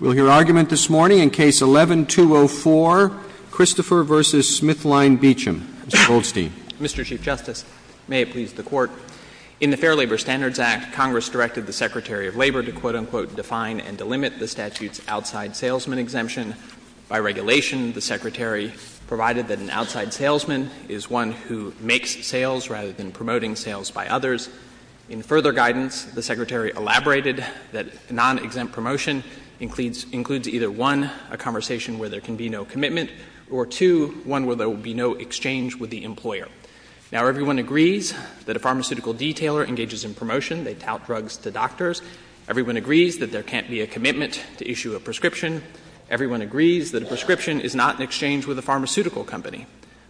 We'll hear argument this morning in Case 11-204, Christopher v. SmithKline Beecham. Mr. Goldstein. Mr. Chief Justice, may it please the Court. In the Fair Labor Standards Act, Congress directed the Secretary of Labor to, quote-unquote, define and delimit the statute's outside salesman exemption. By regulation, the Secretary provided that an outside salesman is one who makes sales rather than promoting sales by others. In further guidance, the Secretary elaborated that non-exempt promotion includes either, one, a conversation where there can be no commitment, or two, one where there will be no exchange with the employer. Now, everyone agrees that a pharmaceutical detailer engages in promotion. They tout drugs to doctors. Everyone agrees that there can't be a commitment to issue a prescription. Everyone agrees that a prescription is not an exchange with a pharmaceutical company.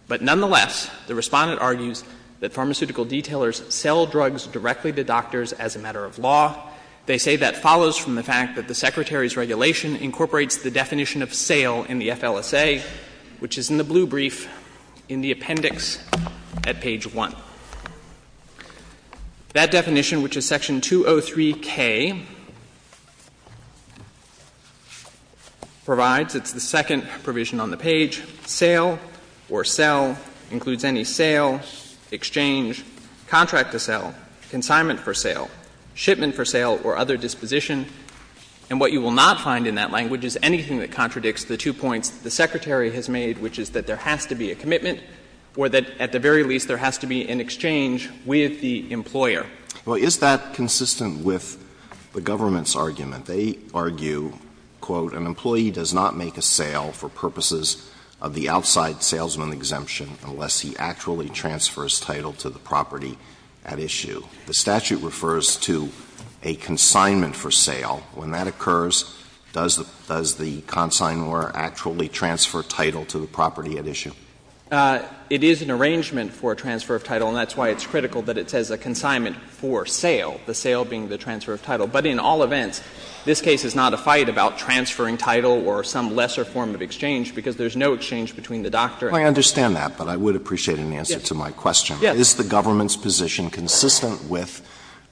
But nonetheless, the Respondent argues that pharmaceutical detailers sell drugs directly to doctors as a matter of law. They say that follows from the fact that the Secretary's regulation incorporates the definition of sale in the FLSA, which is in the blue brief in the appendix at page 1. That definition, which is section 203K, provides, it's the second provision on the page, sale or sell includes any sale, exchange, contract to sell, consignment for sale, shipment for sale, or other disposition. And what you will not find in that language is anything that contradicts the two points the Secretary has made, which is that there has to be a commitment or that at the very least there has to be an exchange with the employer. Well, is that consistent with the government's argument? They argue, quote, An employee does not make a sale for purposes of the outside salesman exemption unless he actually transfers title to the property at issue. The statute refers to a consignment for sale. When that occurs, does the consignor actually transfer title to the property at issue? It is an arrangement for a transfer of title, and that's why it's critical that it says But in all events, this case is not a fight about transferring title or some lesser form of exchange because there's no exchange between the doctor and the employer. Alito, I understand that, but I would appreciate an answer to my question. Yes. Is the government's position consistent with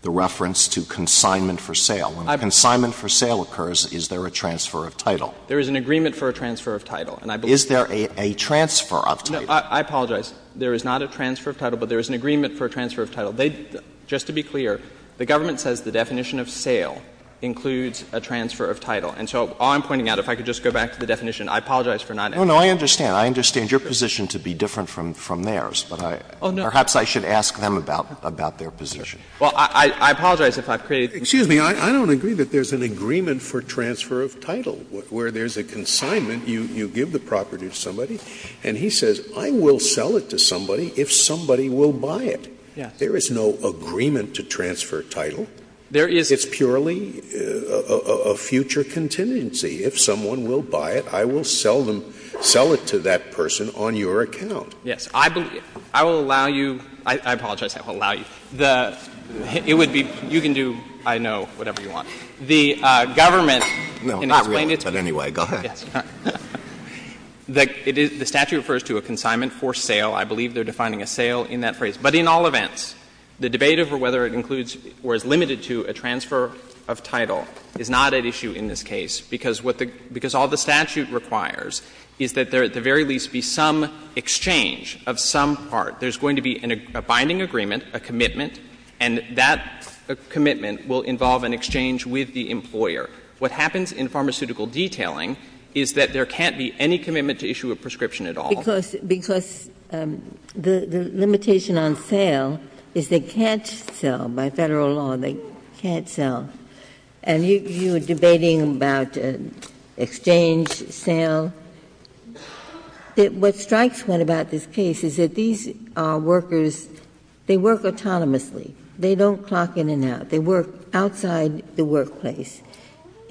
the reference to consignment for sale? When consignment for sale occurs, is there a transfer of title? There is an agreement for a transfer of title, and I believe that's true. Is there a transfer of title? I apologize. There is not a transfer of title, but there is an agreement for a transfer of title. They — just to be clear, the government says the definition of sale includes a transfer of title. And so all I'm pointing out, if I could just go back to the definition, I apologize for not asking. No, no, I understand. I understand your position to be different from theirs, but I — Oh, no. Perhaps I should ask them about their position. Well, I apologize if I've created— Excuse me. I don't agree that there's an agreement for transfer of title where there's a consignment, you give the property to somebody, and he says, I will sell it to somebody if somebody will buy it. Yes. There is no agreement to transfer title. There is— It's purely a future contingency. If someone will buy it, I will sell them — sell it to that person on your account. Yes. I believe — I will allow you — I apologize. I will allow you. The — it would be — you can do, I know, whatever you want. The government— No, I'm not real. But anyway, go ahead. Yes. All right. The statute refers to a consignment for sale. I believe they're defining a sale in that phrase. But in all events, the debate over whether it includes or is limited to a transfer of title is not at issue in this case, because what the — because all the statute requires is that there at the very least be some exchange of some part. There's going to be a binding agreement, a commitment, and that commitment will involve an exchange with the employer. What happens in pharmaceutical detailing is that there can't be any commitment to issue a prescription at all. Because the limitation on sale is they can't sell. By federal law, they can't sell. And you were debating about exchange, sale. What strikes one about this case is that these workers, they work autonomously. They don't clock in and out. They work outside the workplace.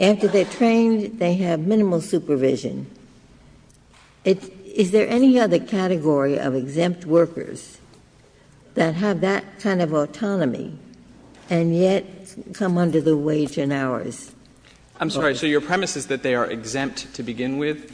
After they're trained, they have minimal supervision. Is there any other category of exempt workers that have that kind of autonomy and yet come under the wage and hours? I'm sorry. So your premise is that they are exempt to begin with?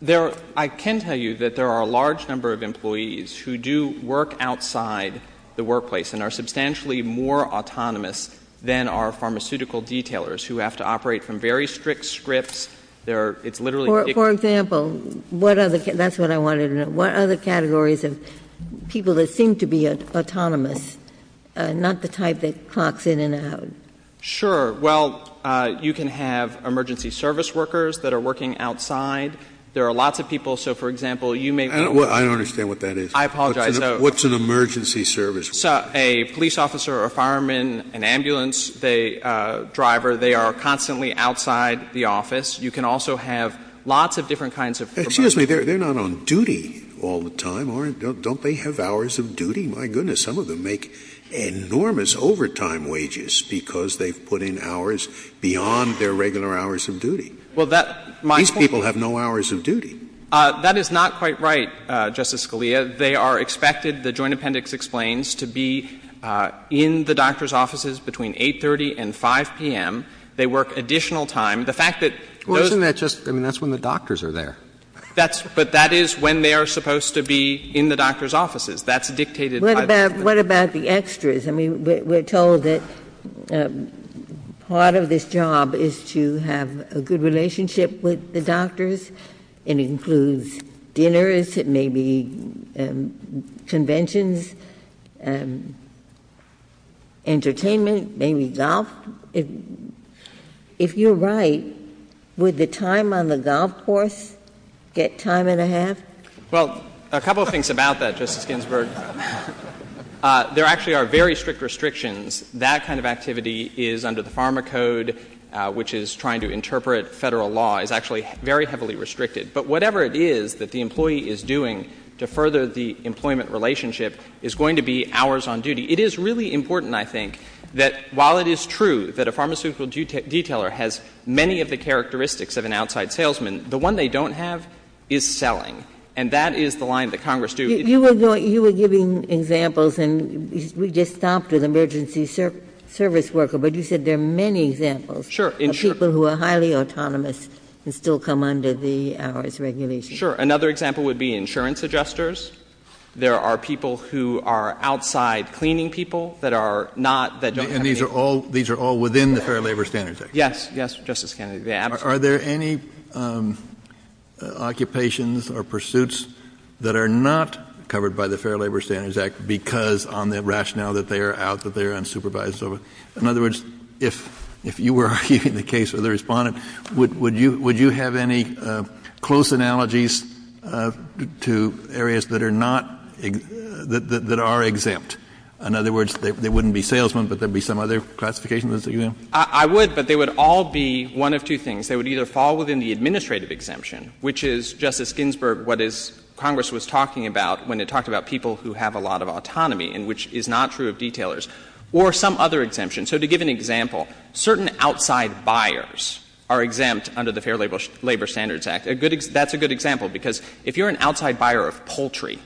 There are — I can tell you that there are a large number of employees who do work outside the workplace and are substantially more autonomous than are pharmaceutical detailers who have to operate from very strict scripts. There are — it's literally ridiculous. For example, what other — that's what I wanted to know. What other categories of people that seem to be autonomous, not the type that clocks in and out? Sure. Well, you can have emergency service workers that are working outside. There are lots of people. So, for example, you may be working at a — I don't understand what that is. I apologize. What's an emergency service worker? A police officer, a fireman, an ambulance driver, they are constantly outside the office. You can also have lots of different kinds of — Excuse me. They're not on duty all the time, aren't they? Don't they have hours of duty? My goodness. Some of them make enormous overtime wages because they've put in hours beyond their regular hours of duty. Well, that — These people have no hours of duty. That is not quite right, Justice Scalia. They are expected, the Joint Appendix explains, to be in the doctor's offices between 8.30 and 5 p.m. They work additional time. The fact that those — Well, isn't that just — I mean, that's when the doctors are there. That's — but that is when they are supposed to be in the doctor's offices. That's dictated by the — What about — what about the extras? I mean, we're told that part of this job is to have a good relationship with the doctors. It includes dinners. It may be conventions, entertainment, maybe golf. If you're right, would the time on the golf course get time and a half? Well, a couple of things about that, Justice Ginsburg. There actually are very strict restrictions. That kind of activity is under the Pharma Code, which is trying to interpret federal law. It's actually very heavily restricted. But whatever it is that the employee is doing to further the employment relationship is going to be hours on duty. It is really important, I think, that while it is true that a pharmaceutical detailer has many of the characteristics of an outside salesman, the one they don't have is selling. And that is the line that Congress do. You were giving examples, and we just stopped with emergency service worker, but you said there are many examples of people who are highly autonomous and still come under the hours regulation. Sure. Another example would be insurance adjusters. There are people who are outside cleaning people that are not, that don't have any And these are all within the Fair Labor Standards Act? Yes. Yes, Justice Kennedy. Are there any occupations or pursuits that are not covered by the Fair Labor Standards Act because on the rationale that they are out, that they are unsupervised? In other words, if you were arguing the case with the Respondent, would you have any close analogies to areas that are not, that are exempt? In other words, they wouldn't be salesmen, but there would be some other classification that's exempt? I would, but they would all be one of two things. They would either fall within the administrative exemption, which is, Justice Ginsburg, what Congress was talking about when it talked about people who have a lot of autonomy and which is not true of detailers, or some other exemption. So to give an example, certain outside buyers are exempt under the Fair Labor Standards Act. A good, that's a good example because if you're an outside buyer of poultry,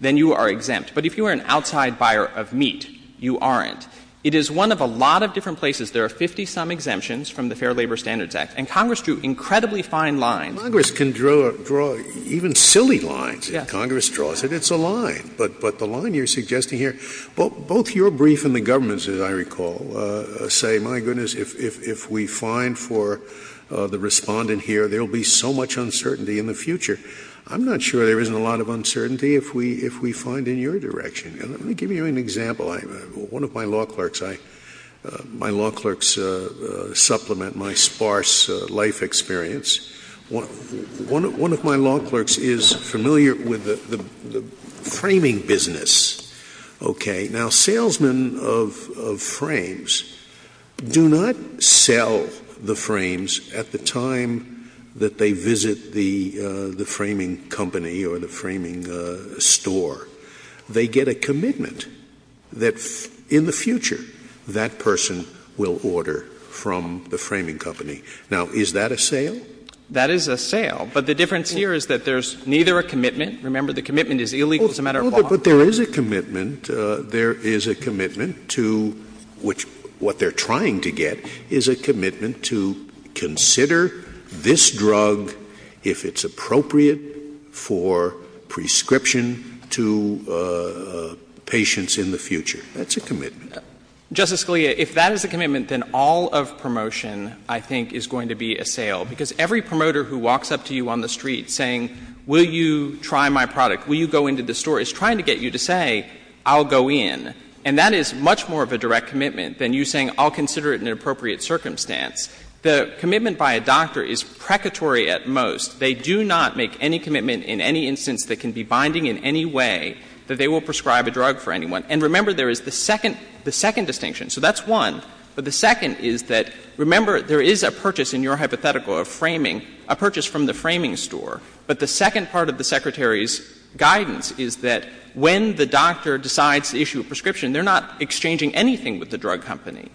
then you are exempt. But if you are an outside buyer of meat, you aren't. It is one of a lot of different places. There are 50-some exemptions from the Fair Labor Standards Act. And Congress drew incredibly fine lines. Congress can draw even silly lines if Congress draws it. It's a line. But the line you're suggesting here, both your brief and the government's, as I recall, say, my goodness, if we find for the Respondent here, there will be so much uncertainty in the future. I'm not sure there isn't a lot of uncertainty if we find in your direction. Let me give you an example. One of my law clerks, I, my law clerks supplement my sparse life experience. One of my law clerks is familiar with the framing business. Okay. Now, salesmen of frames do not sell the frames at the time that they visit the framing company or the framing store. They get a commitment that in the future that person will order from the framing company. Now, is that a sale? That is a sale. But the difference here is that there's neither a commitment. Remember, the commitment is illegal as a matter of law. But there is a commitment. There is a commitment to which what they're trying to get is a commitment to consider this drug if it's appropriate for prescription to patients in the future. That's a commitment. Justice Scalia, if that is a commitment, then all of promotion, I think, is going to be a sale. Because every promoter who walks up to you on the street saying, will you try my product, will you go into the store, is trying to get you to say, I'll go in. And that is much more of a direct commitment than you saying, I'll consider it in an appropriate circumstance. The commitment by a doctor is precatory at most. They do not make any commitment in any instance that can be binding in any way that they will prescribe a drug for anyone. And remember, there is the second distinction. So that's one. But the second is that, remember, there is a purchase in your hypothetical of framing, a purchase from the framing store. But the second part of the Secretary's guidance is that when the doctor decides to issue a prescription, they're not exchanging anything with the drug company.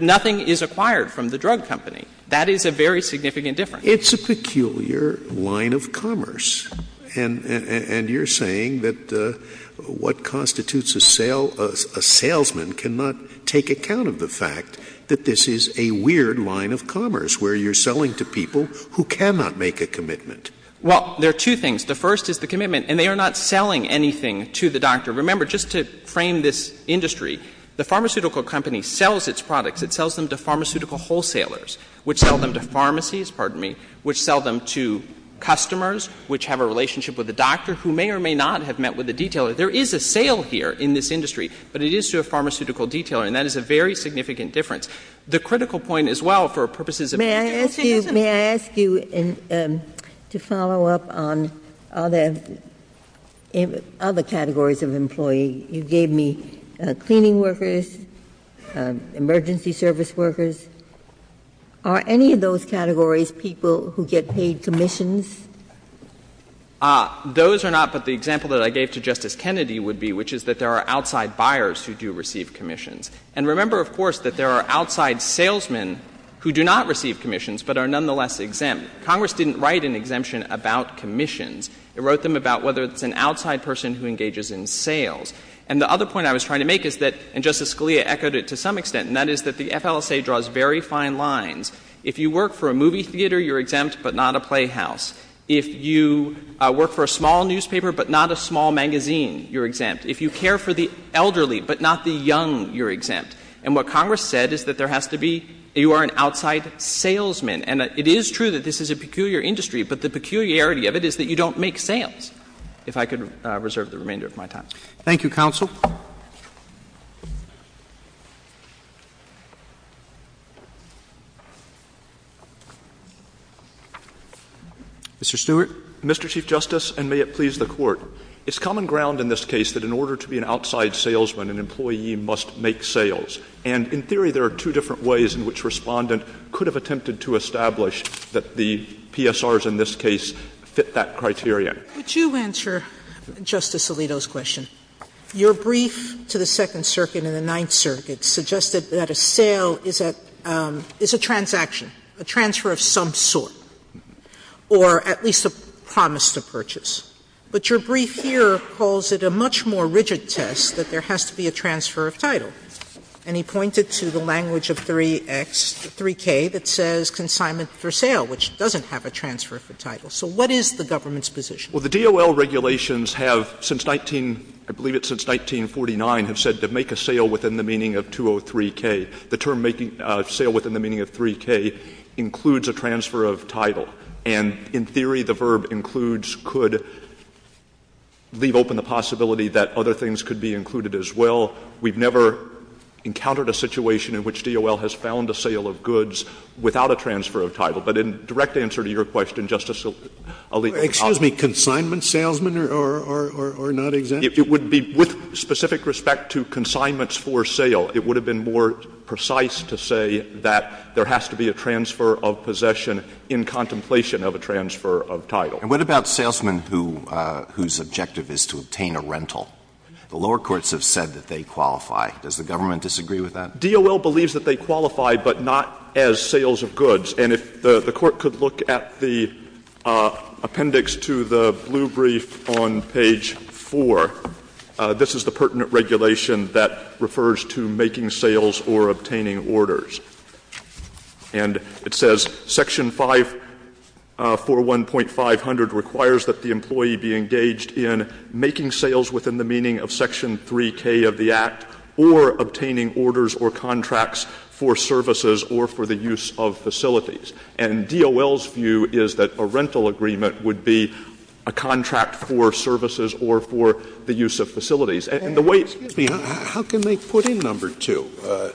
Nothing is acquired from the drug company. That is a very significant difference. It's a peculiar line of commerce. And you're saying that what constitutes a sale, a salesman cannot take account of the fact that this is a weird line of commerce where you're selling to people who cannot make a commitment. Well, there are two things. The first is the commitment. And they are not selling anything to the doctor. Remember, just to frame this industry, the pharmaceutical company sells its products. It sells them to pharmaceutical wholesalers, which sell them to pharmacies, pardon me, which sell them to customers, which have a relationship with the doctor who may or may not have met with the detailer. There is a sale here in this industry, but it is to a pharmaceutical detailer. And that is a very significant difference. The critical point as well for purposes of the agency doesn't — May I ask you to follow up on other categories of employee. You gave me cleaning workers, emergency service workers. Are any of those categories people who get paid commissions? Those are not, but the example that I gave to Justice Kennedy would be, which is that there are outside buyers who do receive commissions. And remember, of course, that there are outside salesmen who do not receive commissions but are nonetheless exempt. Congress didn't write an exemption about commissions. It wrote them about whether it's an outside person who engages in sales. And the other point I was trying to make is that — and Justice Scalia echoed it to some extent — and that is that the FLSA draws very fine lines. If you work for a movie theater, you're exempt, but not a playhouse. If you work for a small newspaper but not a small magazine, you're exempt. If you care for the elderly but not the young, you're exempt. And what Congress said is that there has to be — you are an outside salesman. And it is true that this is a peculiar industry, but the peculiarity of it is that you don't make sales, if I could reserve the remainder of my time. Roberts. Thank you, counsel. Mr. Stewart. Mr. Chief Justice, and may it please the Court. It's common ground in this case that in order to be an outside salesman, an employee must make sales. And in theory, there are two different ways in which Respondent could have attempted to establish that the PSRs in this case fit that criteria. Would you answer Justice Alito's question? Your brief to the Second Circuit and the Ninth Circuit suggested that a sale is a transaction, a transfer of some sort, or at least a promise to purchase. But your brief here calls it a much more rigid test that there has to be a transfer of title. And he pointed to the language of 3X, 3K, that says consignment for sale, which doesn't have a transfer for title. So what is the government's position? Well, the DOL regulations have, since 19 — I believe it's since 1949, have said to make a sale within the meaning of 203K. The term making a sale within the meaning of 3K includes a transfer of title. And in theory, the verb includes could leave open the possibility that other things could be included as well. We've never encountered a situation in which DOL has found a sale of goods without a transfer of title. But in direct answer to your question, Justice Alito, I'll be honest. Excuse me, consignment salesmen are not exempt? It would be — with specific respect to consignments for sale, it would have been more precise to say that there has to be a transfer of possession in contemplation of a transfer of title. And what about salesmen whose objective is to obtain a rental? The lower courts have said that they qualify. Does the government disagree with that? DOL believes that they qualify, but not as sales of goods. And if the Court could look at the appendix to the blue brief on page 4, this is the pertinent regulation that refers to making sales or obtaining orders. And it says, Section 541.500 requires that the employee be engaged in making sales within the meaning of Section 3K of the Act or obtaining orders or contracts for services or for the use of facilities. And DOL's view is that a rental agreement would be a contract for services or for the use of facilities. And the way it's been — Scalia. How can they put in number 2?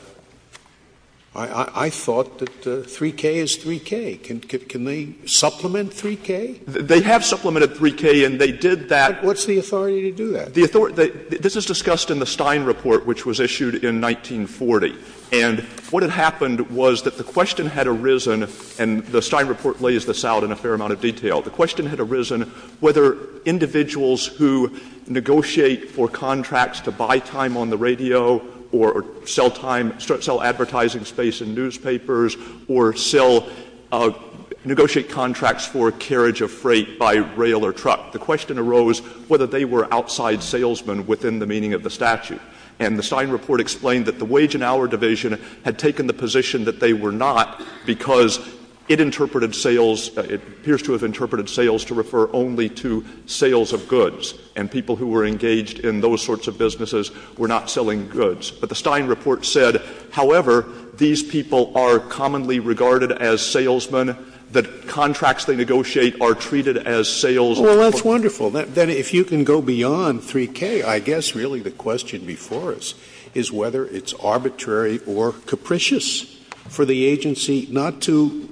I thought that 3K is 3K. Can they supplement 3K? They have supplemented 3K, and they did that. What's the authority to do that? The authority — this is discussed in the Stein report, which was issued in 1940. And what had happened was that the question had arisen, and the Stein report lays this out in a fair amount of detail. The question had arisen whether individuals who negotiate for contracts to buy time on the radio or sell time — sell advertising space in newspapers or sell — negotiate contracts for carriage of freight by rail or truck, the question arose whether they were outside salesmen within the meaning of the statute. And the Stein report explained that the Wage and Hour Division had taken the position that they were not because it interpreted sales — it appears to have interpreted sales to refer only to sales of goods, and people who were engaged in those sorts of businesses were not selling goods. But the Stein report said, however, these people are commonly regarded as salesmen, that contracts they negotiate are treated as sales — Scalia. Well, that's wonderful. Then if you can go beyond 3K, I guess really the question before us is whether it's arbitrary or capricious for the agency not to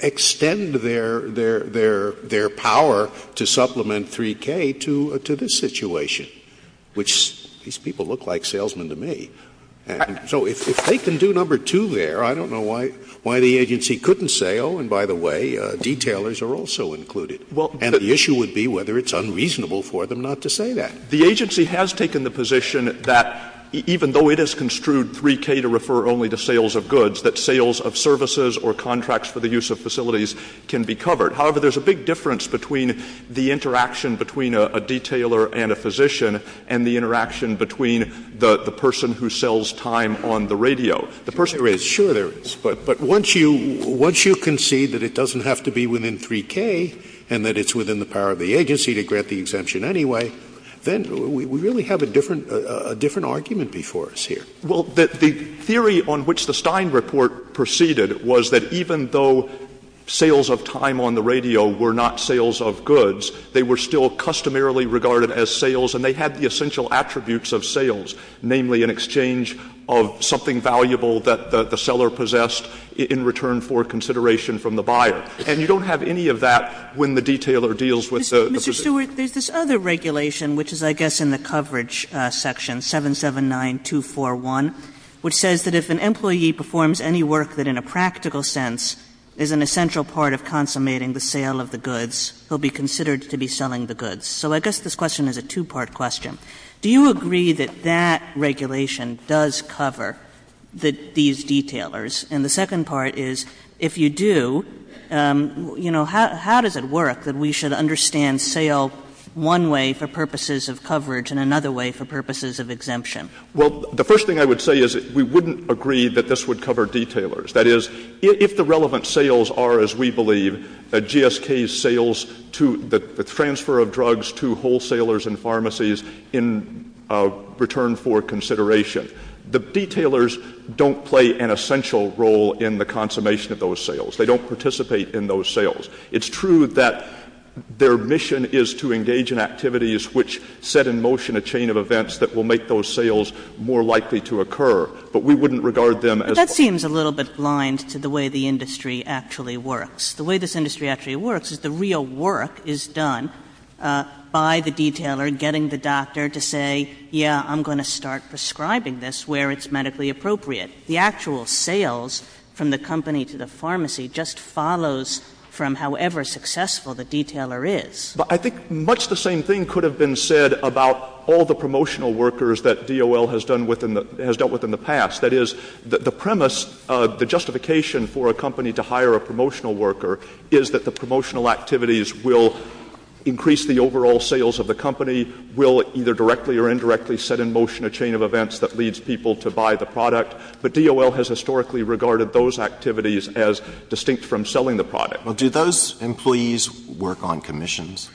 extend their — their power to supplement 3K to — to this situation, which these people look like salesmen to me. And so if they can do number two there, I don't know why — why the agency couldn't say, oh, and by the way, detailers are also included. And the issue would be whether it's unreasonable for them not to say that. Stewart. The agency has taken the position that even though it has construed 3K to refer only to sales of goods, that sales of services or contracts for the use of facilities can be covered. However, there's a big difference between the interaction between a — a detailer and a physician and the interaction between the — the person who sells time on the radio. The person — There is. Sure, there is. But — but once you — once you concede that it doesn't have to be within 3K and that it's within the power of the agency to grant the exemption anyway, then we really have a different — a different argument before us here. Well, the — the theory on which the Stein report proceeded was that even though sales of time on the radio were not sales of goods, they were still customarily regarded as sales and they had the essential attributes of sales, namely an exchange of something valuable that the — the seller possessed in return for consideration from the buyer. And you don't have any of that when the detailer deals with the physician. Mr. Stewart, there's this other regulation, which is, I guess, in the coverage section, 779241, which says that if an employee performs any work that in a practical sense is an essential part of consummating the sale of the goods, he'll be considered to be selling the goods. So I guess this question is a two-part question. Do you agree that that regulation does cover the — these detailers? And the second part is, if you do, you know, how — how does it work that we should understand sale one way for purposes of coverage and another way for purposes of exemption? Well, the first thing I would say is we wouldn't agree that this would cover detailers. That is, if the relevant sales are, as we believe, GSK's sales to — the transfer of drugs to wholesalers and pharmacies in return for consideration, the detailers don't play an essential role in the consummation of those sales. They don't participate in those sales. It's true that their mission is to engage in activities which set in motion a chain of events that will make those sales more likely to occur. But we wouldn't regard them as — But that seems a little bit blind to the way the industry actually works. The way this industry actually works is the real work is done by the detailer getting the doctor to say, yes, I'm going to start prescribing this where it's medically appropriate. The actual sales from the company to the pharmacy just follows from however successful the detailer is. But I think much the same thing could have been said about all the promotional workers that DOL has done within the — has dealt with in the past. That is, the premise, the justification for a company to hire a promotional worker is that the promotional activities will increase the overall sales of the company, will either directly or indirectly set in motion a chain of events that leads people to buy the product, but DOL has historically regarded those activities as distinct from selling the product. Well, do those employees work on commissions?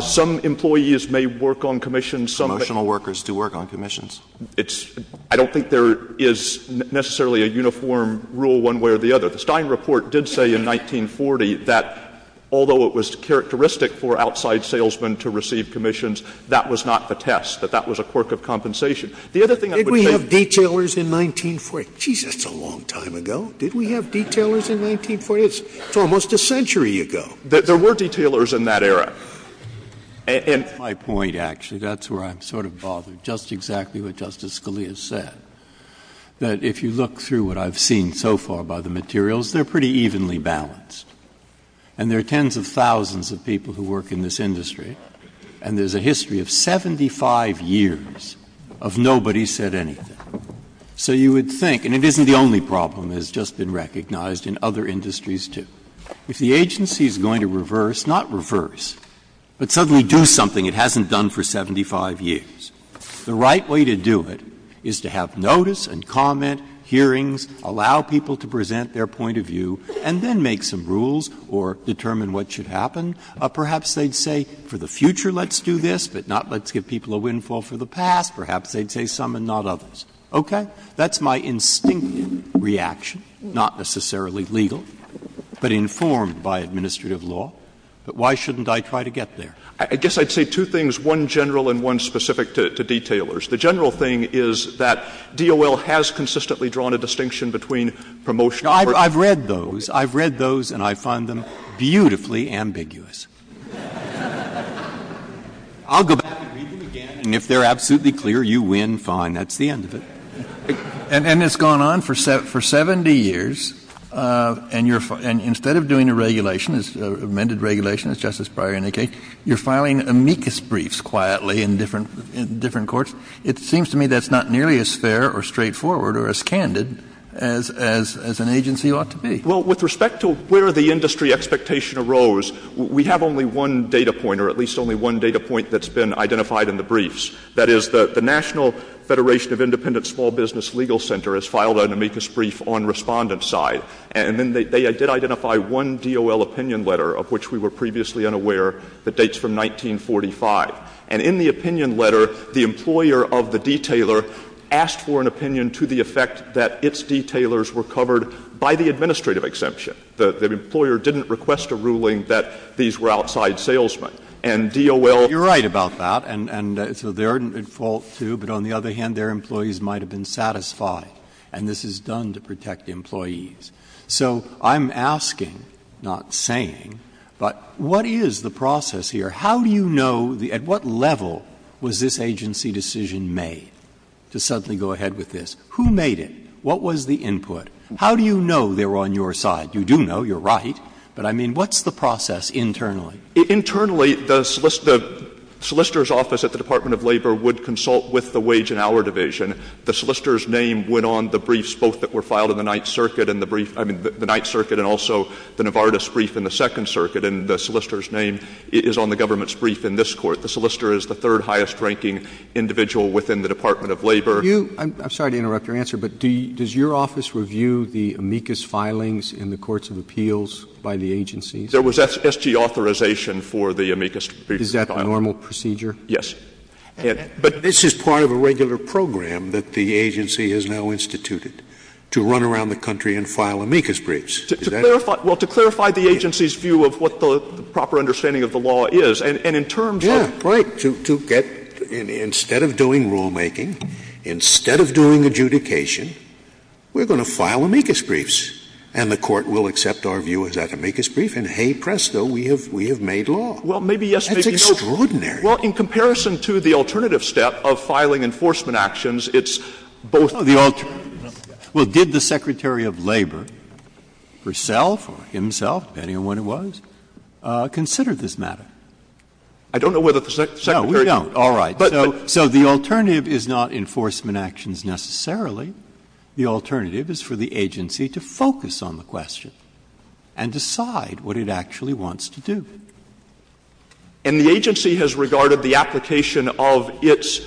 Some employees may work on commissions. Promotional workers do work on commissions. It's — I don't think there is necessarily a uniform rule one way or the other. The Stein report did say in 1940 that although it was characteristic for outside salesmen to receive commissions, that was not the test, that that was a quirk of compensation. The other thing I would say — Did we have detailers in 1940? Jeez, that's a long time ago. Did we have detailers in 1940? It's almost a century ago. There were detailers in that era. And — That's my point, actually. That's where I'm sort of bothered, just exactly what Justice Scalia said, that if you look through what I've seen so far by the materials, they're pretty evenly balanced. And there are tens of thousands of people who work in this industry, and there's a history of 75 years of nobody said anything. So you would think, and it isn't the only problem that has just been recognized in other industries, too. If the agency is going to reverse, not reverse, but suddenly do something it hasn't done for 75 years, the right way to do it is to have notice and comment, hearings, allow people to present their point of view, and then make some rules or determine what should happen. Perhaps they'd say, for the future, let's do this, but not let's give people a windfall for the past. Perhaps they'd say some and not others. Okay? That's my instinctive reaction, not necessarily legal, but informed by administrative law. But why shouldn't I try to get there? I guess I'd say two things, one general and one specific to detailers. The general thing is that DOL has consistently drawn a distinction between promotion of orders. I've read those. I've read those, and I find them beautifully ambiguous. I'll go back and read them again, and if they're absolutely clear, you win, fine. That's the end of it. And it's gone on for 70 years, and you're — and instead of doing a regulation, amended regulation, as Justice Breyer indicated, you're filing amicus briefs quietly in different courts. It seems to me that's not nearly as fair or straightforward or as candid as an agency ought to be. Well, with respect to where the industry expectation arose, we have only one data point, or at least only one data point that's been identified in the briefs. That is, the National Federation of Independent Small Business Legal Center has filed an amicus brief on Respondent's side. And then they did identify one DOL opinion letter, of which we were previously unaware, that dates from 1945. And in the opinion letter, the employer of the detailer asked for an opinion to the effect that its detailers were covered by the administrative exemption. The employer didn't request a ruling that these were outside salesmen. And DOL— You're right about that. And so they're at fault, too. But on the other hand, their employees might have been satisfied. And this is done to protect employees. So I'm asking, not saying, but what is the process here? How do you know the — at what level was this agency decision made to suddenly go ahead with this? Who made it? What was the input? How do you know they were on your side? You do know. You're right. But I mean, what's the process internally? Internally, the solicitor's office at the Department of Labor would consult with the Wage and Hour Division. The solicitor's name went on the briefs, both that were filed in the Ninth Circuit and the brief — I mean, the Ninth Circuit and also the Novartis brief in the Second Circuit. And the solicitor's name is on the government's brief in this court. The solicitor is the third-highest-ranking individual within the Department of Labor. Do you — I'm sorry to interrupt your answer, but does your office review the amicus filings in the courts of appeals by the agencies? There was S.G. authorization for the amicus to be filed. Is that the normal procedure? Yes. But this is part of a regular program that the agency has now instituted to run around the country and file amicus briefs. To clarify — well, to clarify the agency's view of what the proper understanding of the law is. And in terms of — Yeah, right. To get — instead of doing rulemaking, instead of doing adjudication, we're going to file amicus briefs, and the Court will accept our view as that amicus brief, and hey, presto, we have made law. That's extraordinary. Well, in comparison to the alternative step of filing enforcement actions, it's both — Well, did the Secretary of Labor herself or himself, depending on when it was, consider this matter? I don't know whether the Secretary — No, we don't. All right. So the alternative is not enforcement actions necessarily. The alternative is for the agency to focus on the question and decide what it actually wants to do. And the agency has regarded the application of its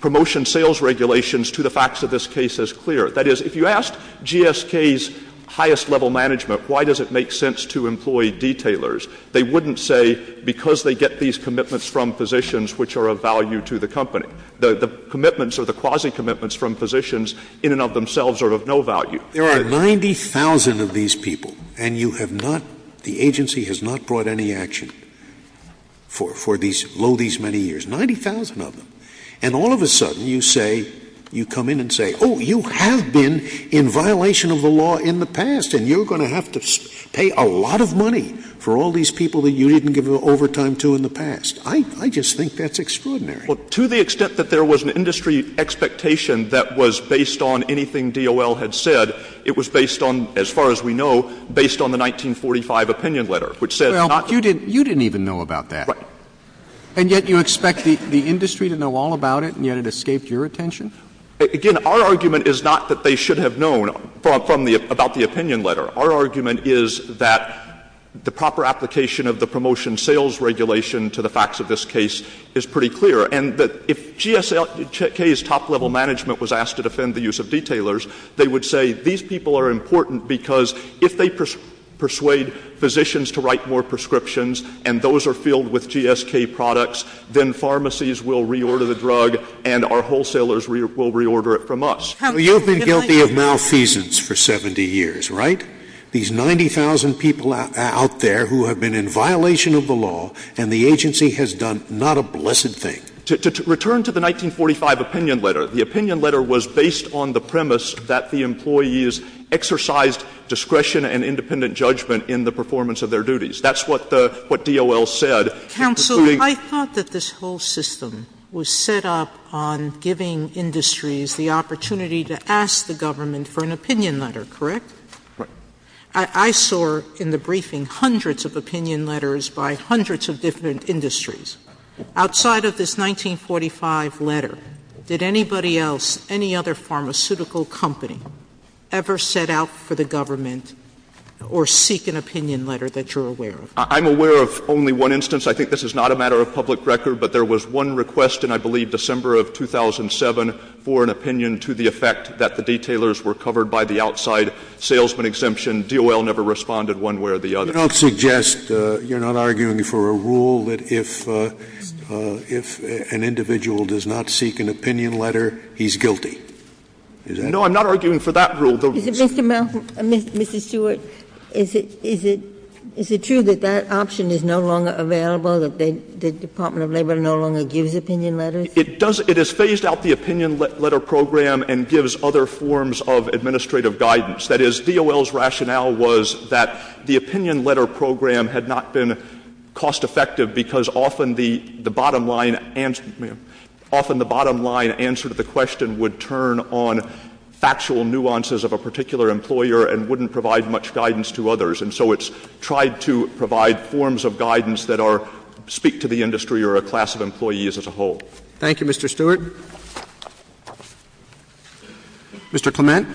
promotion sales regulations to the facts of this case as clear. That is, if you asked GSK's highest-level management why does it make sense to employ detailers, they wouldn't say because they get these commitments from physicians which are of value to the company. The commitments or the quasi-commitments from physicians in and of themselves are of no value. There are 90,000 of these people, and you have not — the agency has not brought any action for these — below these many years. Ninety thousand of them. And all of a sudden, you say — you come in and say, oh, you have been in violation of the law in the past, and you're going to have to pay a lot of money for all these people that you didn't give overtime to in the past. I — I just think that's extraordinary. Well, to the extent that there was an industry expectation that was based on anything DOL had said, it was based on, as far as we know, based on the 1945 opinion letter, which said not — Well, you didn't — you didn't even know about that. Right. And yet you expect the — the industry to know all about it, and yet it escaped your attention? Again, our argument is not that they should have known from the — about the opinion letter. Our argument is that the proper application of the promotion sales regulation to the facts of this case is pretty clear, and that if GSK's top-level management was asked to defend the use of detailers, they would say these people are important because if they persuade physicians to write more prescriptions and those are filled with GSK products, then pharmacies will reorder the drug and our wholesalers will reorder it from us. You have been guilty of malfeasance for 70 years, right? These 90,000 people out there who have been in violation of the law, and the agency has done not a blessed thing. To — to return to the 1945 opinion letter, the opinion letter was based on the premise that the employees exercised discretion and independent judgment in the performance of their duties. That's what the — what DOL said. Counsel, I thought that this whole system was set up on giving industries the opportunity to ask the government for an opinion letter, correct? Right. I saw in the briefing hundreds of opinion letters by hundreds of different industries. Outside of this 1945 letter, did anybody else, any other pharmaceutical company, ever set out for the government or seek an opinion letter that you're aware of? I'm aware of only one instance. I think this is not a matter of public record, but there was one request in, I believe, December of 2007 for an opinion to the effect that the detailers were covered by the outside salesman exemption. DOL never responded one way or the other. You don't suggest — you're not arguing for a rule that if — if an individual does not seek an opinion letter, he's guilty? Is that — No, I'm not arguing for that rule. Is it, Mr. Malcolm — Mr. Stewart, is it — is it true that that option is no longer available, that the Department of Labor no longer gives opinion letters? It does — it has phased out the opinion letter program and gives other forms of administrative guidance. That is, DOL's rationale was that the opinion letter program had not been cost-effective because often the — the bottom line — often the bottom line answer to the question would turn on factual nuances of a particular employer and wouldn't provide much guidance to others. And so it's tried to provide forms of guidance that are — speak to the industry or a class of employees as a whole. Thank you, Mr. Stewart. Mr. Clement.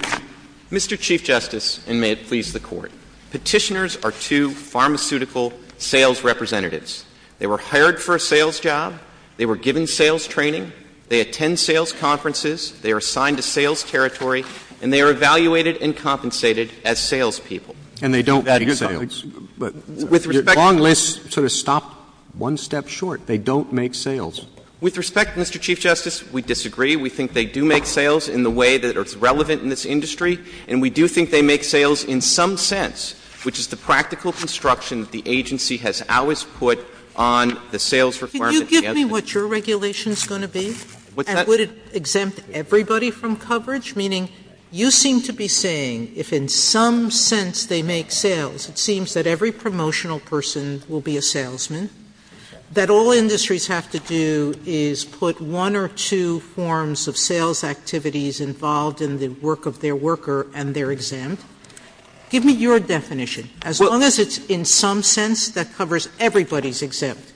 Mr. Chief Justice, and may it please the Court, Petitioners are two pharmaceutical sales representatives. They were hired for a sales job. They were given sales training. They attend sales conferences. They are assigned to sales territory. And they are evaluated and compensated as salespeople. And they don't make sales. With respect to — Your long list sort of stopped one step short. They don't make sales. With respect, Mr. Chief Justice, we disagree. We think they do make sales in the way that is relevant in this industry. And we do think they make sales in some sense, which is the practical construction the agency has always put on the sales requirement. Could you give me what your regulation is going to be? And would it exempt everybody from coverage? Meaning, you seem to be saying if in some sense they make sales, it seems that every promotional person will be a salesman. That all industries have to do is put one or two forms of sales activities involved in the work of their worker, and they're exempt. Give me your definition. As long as it's in some sense that covers everybody's exempt.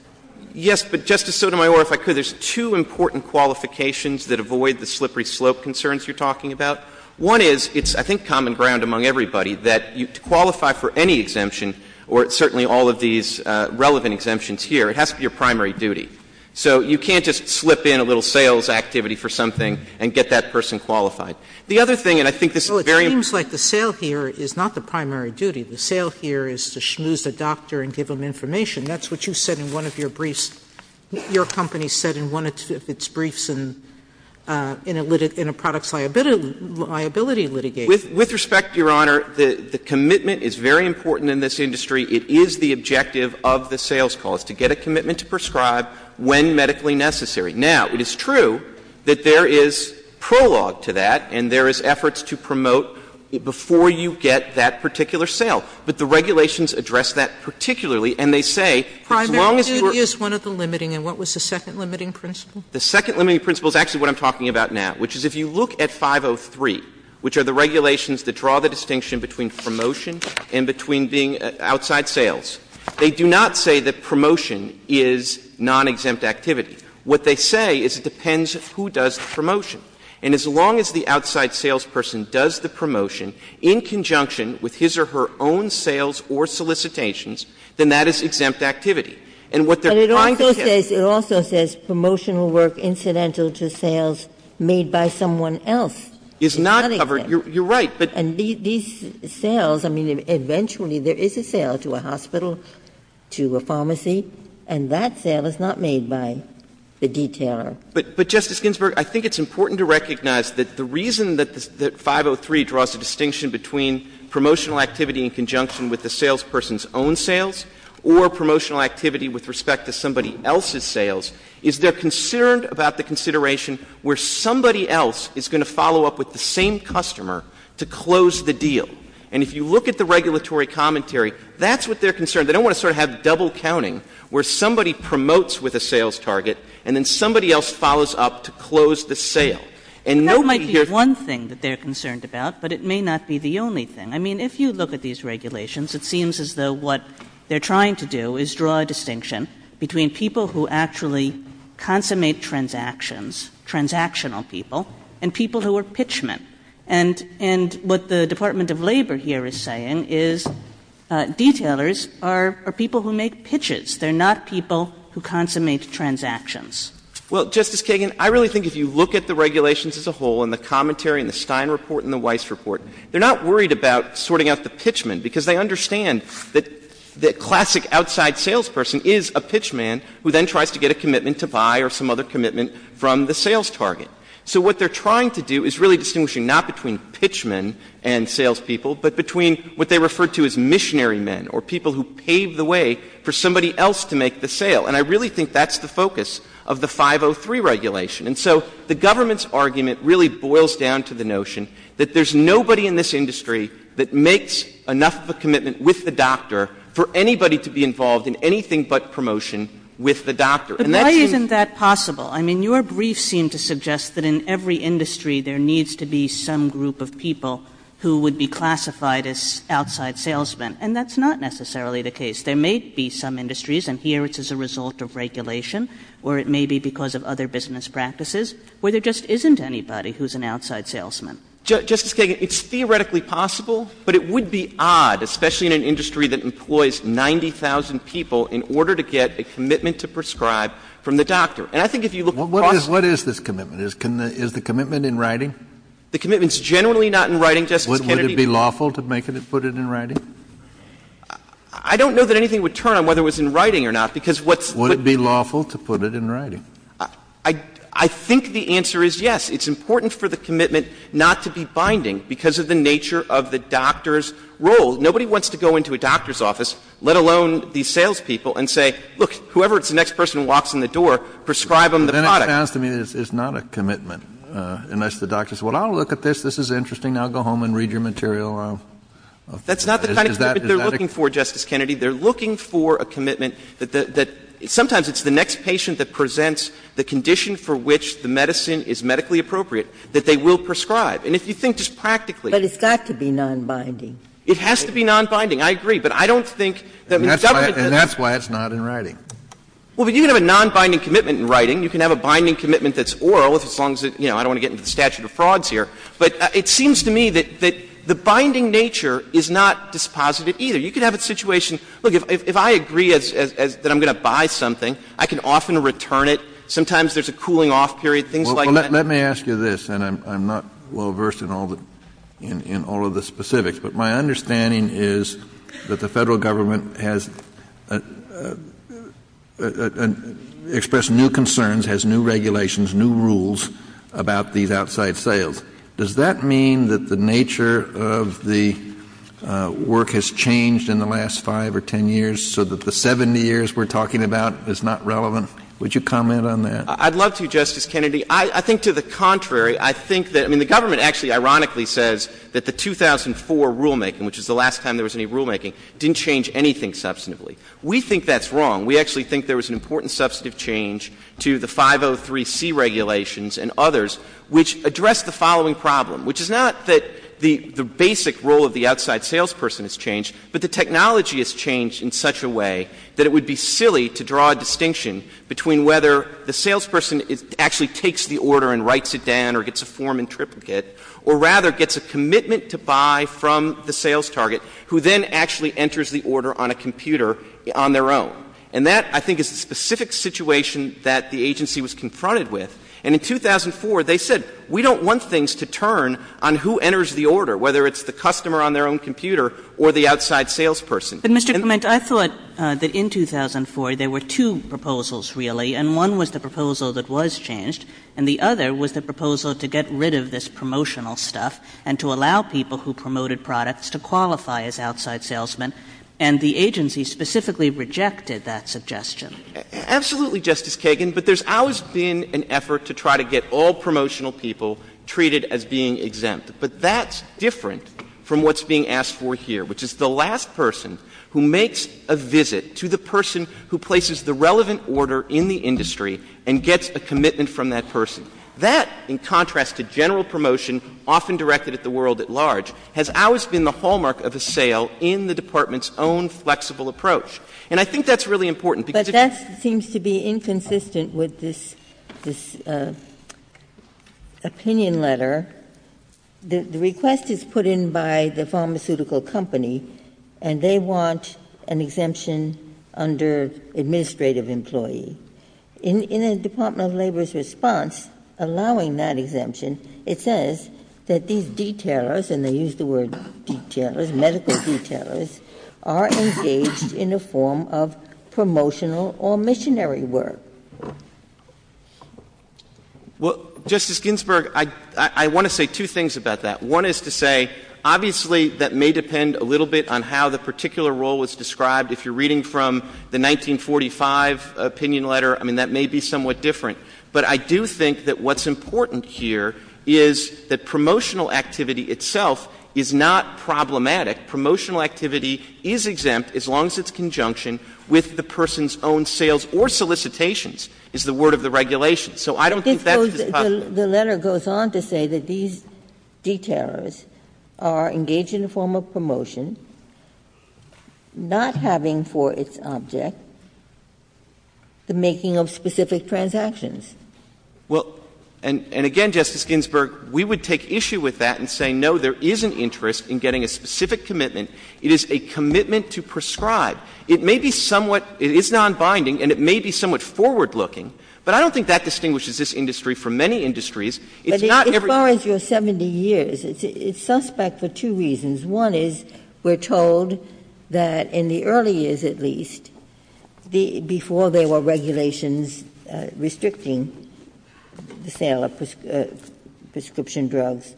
Yes, but, Justice Sotomayor, if I could, there's two important qualifications that avoid the slippery slope concerns you're talking about. One is, it's I think common ground among everybody that to qualify for any exemption or certainly all of these relevant exemptions here, it has to be your primary duty. So you can't just slip in a little sales activity for something and get that person qualified. The other thing, and I think this is very important. Well, it seems like the sale here is not the primary duty. The sale here is to schmooze the doctor and give him information. That's what you said in one of your briefs. Your company said in one of its briefs in a products liability litigation. With respect, Your Honor, the commitment is very important in this industry. It is the objective of the sales calls to get a commitment to prescribe when medically necessary. Now, it is true that there is prologue to that and there is efforts to promote before you get that particular sale. But the regulations address that particularly and they say, as long as you are Sotomayor, primary duty is one of the limiting and what was the second limiting principle? The second limiting principle is actually what I'm talking about now, which is if you look at 503, which are the regulations that draw the distinction between promotion and between being outside sales, they do not say that promotion is non-exempt activity. What they say is it depends who does the promotion. And as long as the outside salesperson does the promotion in conjunction with his or her own sales or solicitations, then that is exempt activity. And what they are trying to say is that Ginsburg It also says promotional work incidental to sales made by someone else is not exempt. And these sales, I mean, eventually there is a sale to a hospital, to a pharmacy, and that sale is not made by the detailer. Clement But, Justice Ginsburg, I think it's important to recognize that the reason that 503 draws a distinction between promotional activity in conjunction with the salesperson's own sales or promotional activity with respect to somebody else's sales is they are concerned about the consideration where somebody else is going to follow up with the same customer to close the deal. And if you look at the regulatory commentary, that's what they are concerned. They don't want to sort of have double counting where somebody promotes with a sales target and then somebody else follows up to close the sale. And nobody here Kagan There is one thing that they are concerned about, but it may not be the only thing. I mean, if you look at these regulations, it seems as though what they are trying to do is draw a distinction between people who actually consummate transactions, transactional people, and people who are pitchmen. And what the Department of Labor here is saying is detailers are people who make pitches. They are not people who consummate transactions. Well, Justice Kagan, I really think if you look at the regulations as a whole and the commentary and the Stein report and the Weiss report, they are not worried about sorting out the pitchmen because they understand that the classic outside salesperson is a pitchman who then tries to get a commitment to buy or some other commitment from the sales target. So what they are trying to do is really distinguish not between pitchmen and salespeople, but between what they refer to as missionary men or people who pave the way for somebody else to make the sale. And I really think that's the focus of the 503 regulation. And so the government's argument really boils down to the notion that there's nobody in this industry that makes enough of a commitment with the doctor for anybody to be involved in anything but promotion with the doctor. And that's why isn't that possible? I mean, your brief seemed to suggest that in every industry there needs to be some group of people who would be classified as outside salesmen, and that's not necessarily the case. There may be some industries, and here it's as a result of regulation, or it may be because of other business practices, where there just isn't anybody who's an outside salesman. Justice Kagan, it's theoretically possible, but it would be odd, especially in an industry that employs 90,000 people, in order to get a commitment to prescribe from the doctor. And I think if you look across the country... What is this commitment? Is the commitment in writing? The commitment's generally not in writing, Justice Kennedy. Would it be lawful to make it put it in writing? I don't know that anything would turn on whether it was in writing or not, because what's... Would it be lawful to put it in writing? I think the answer is yes. It's important for the commitment not to be binding because of the nature of the doctor's role. Nobody wants to go into a doctor's office, let alone the salespeople, and say, look, whoever it's the next person who walks in the door, prescribe them the product. But then it sounds to me that it's not a commitment, unless the doctor says, well, I'll look at this. This is interesting. I'll go home and read your material. That's not the kind of commitment they're looking for, Justice Kennedy. They're looking for a commitment that sometimes it's the next patient that presents the condition for which the medicine is medically appropriate that they will prescribe. And if you think just practically... But it's got to be nonbinding. It has to be nonbinding. I agree. But I don't think that the government... And that's why it's not in writing. Well, but you can have a nonbinding commitment in writing. You can have a binding commitment that's oral, as long as it's you know, I don't want to get into the statute of frauds here. But it seems to me that the binding nature is not dispositive either. You can have a situation, look, if I agree that I'm going to buy something, I can often return it. Sometimes there's a cooling-off period, things like that. Well, let me ask you this, and I'm not well versed in all of the specifics, but my understanding is that the Federal Government has expressed new concerns, has new regulations, new rules about these outside sales. Does that mean that the nature of the work has changed in the last 5 or 10 years, so that the 70 years we're talking about is not relevant? Would you comment on that? I'd love to, Justice Kennedy. I think to the contrary. I think that, I mean, the government actually ironically says that the 2004 rulemaking, which is the last time there was any rulemaking, didn't change anything substantively. We think that's wrong. We actually think there was an important substantive change to the 503C regulations and others, which addressed the following problem, which is not that the basic role of the outside salesperson has changed, but the technology has changed in such a way that it would be silly to draw a distinction between whether the salesperson actually takes the order and writes it down or gets a form in triplicate, or rather gets a commitment to buy from the sales target, who then actually enters the order on a computer on their own. And that, I think, is the specific situation that the agency was confronted with. And in 2004, they said, we don't want things to turn on who enters the order, whether it's the customer on their own computer or the outside salesperson. But, Mr. Clement, I thought that in 2004 there were two proposals, really, and one was the proposal that was changed, and the other was the proposal to get rid of this promotional stuff and to allow people who promoted products to qualify as outside salesmen, and the agency specifically rejected that suggestion. Absolutely, Justice Kagan, but there's always been an effort to try to get all promotional people treated as being exempt. But that's different from what's being asked for here, which is the last person who makes a visit to the person who places the relevant order in the industry and gets a commitment from that person. That, in contrast to general promotion, often directed at the world at large, has always been the hallmark of a sale in the Department's own flexible approach. The request seems to be inconsistent with this opinion letter. The request is put in by the pharmaceutical company, and they want an exemption under administrative employee. In the Department of Labor's response, allowing that exemption, it says that these detailers, and they use the word detailers, medical detailers, are engaged in a form of promotional or missionary work. Well, Justice Ginsburg, I want to say two things about that. One is to say, obviously, that may depend a little bit on how the particular role was described. If you're reading from the 1945 opinion letter, I mean, that may be somewhat different. But I do think that what's important here is that promotional activity itself is not problematic. Promotional activity is exempt as long as it's in conjunction with the person's own sales or solicitations, is the word of the regulation. So I don't think that's possible. The letter goes on to say that these detailers are engaged in a form of promotion, not having for its object the making of specific transactions. Well, and again, Justice Ginsburg, we would take issue with that and say, no, there is an interest in getting a specific commitment. It is a commitment to prescribe. It may be somewhat – it is nonbinding, and it may be somewhat forward-looking. But I don't think that distinguishes this industry from many industries. It's not everything. Ginsburg. But as far as your 70 years, it's suspect for two reasons. One is we're told that in the early years, at least, before there were regulations restricting the sale of prescription drugs,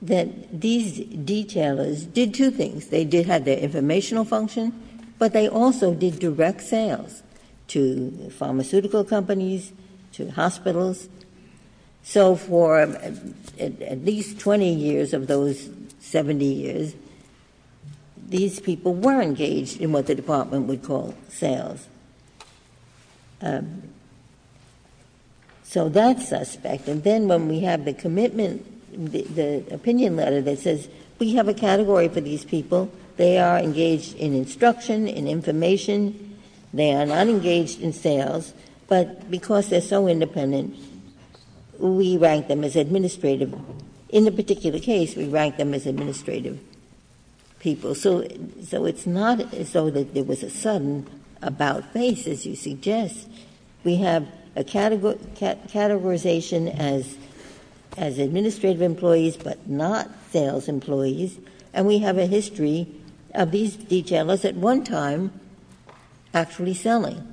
that these detailers did two things. They did have their informational function, but they also did direct sales to pharmaceutical companies, to hospitals. So for at least 20 years of those 70 years, these people were engaged in what the Department would call sales. So that's suspect. And then when we have the commitment, the opinion letter that says we have a category for these people, they are engaged in instruction, in information, they are not engaged in sales, but because they're so independent, we rank them as administrative. In the particular case, we rank them as administrative people. So it's not as though there was a sudden about-face, as you suggest. We have a categorization as administrative employees, but not sales employees. And we have a history of these detailers at one time actually selling.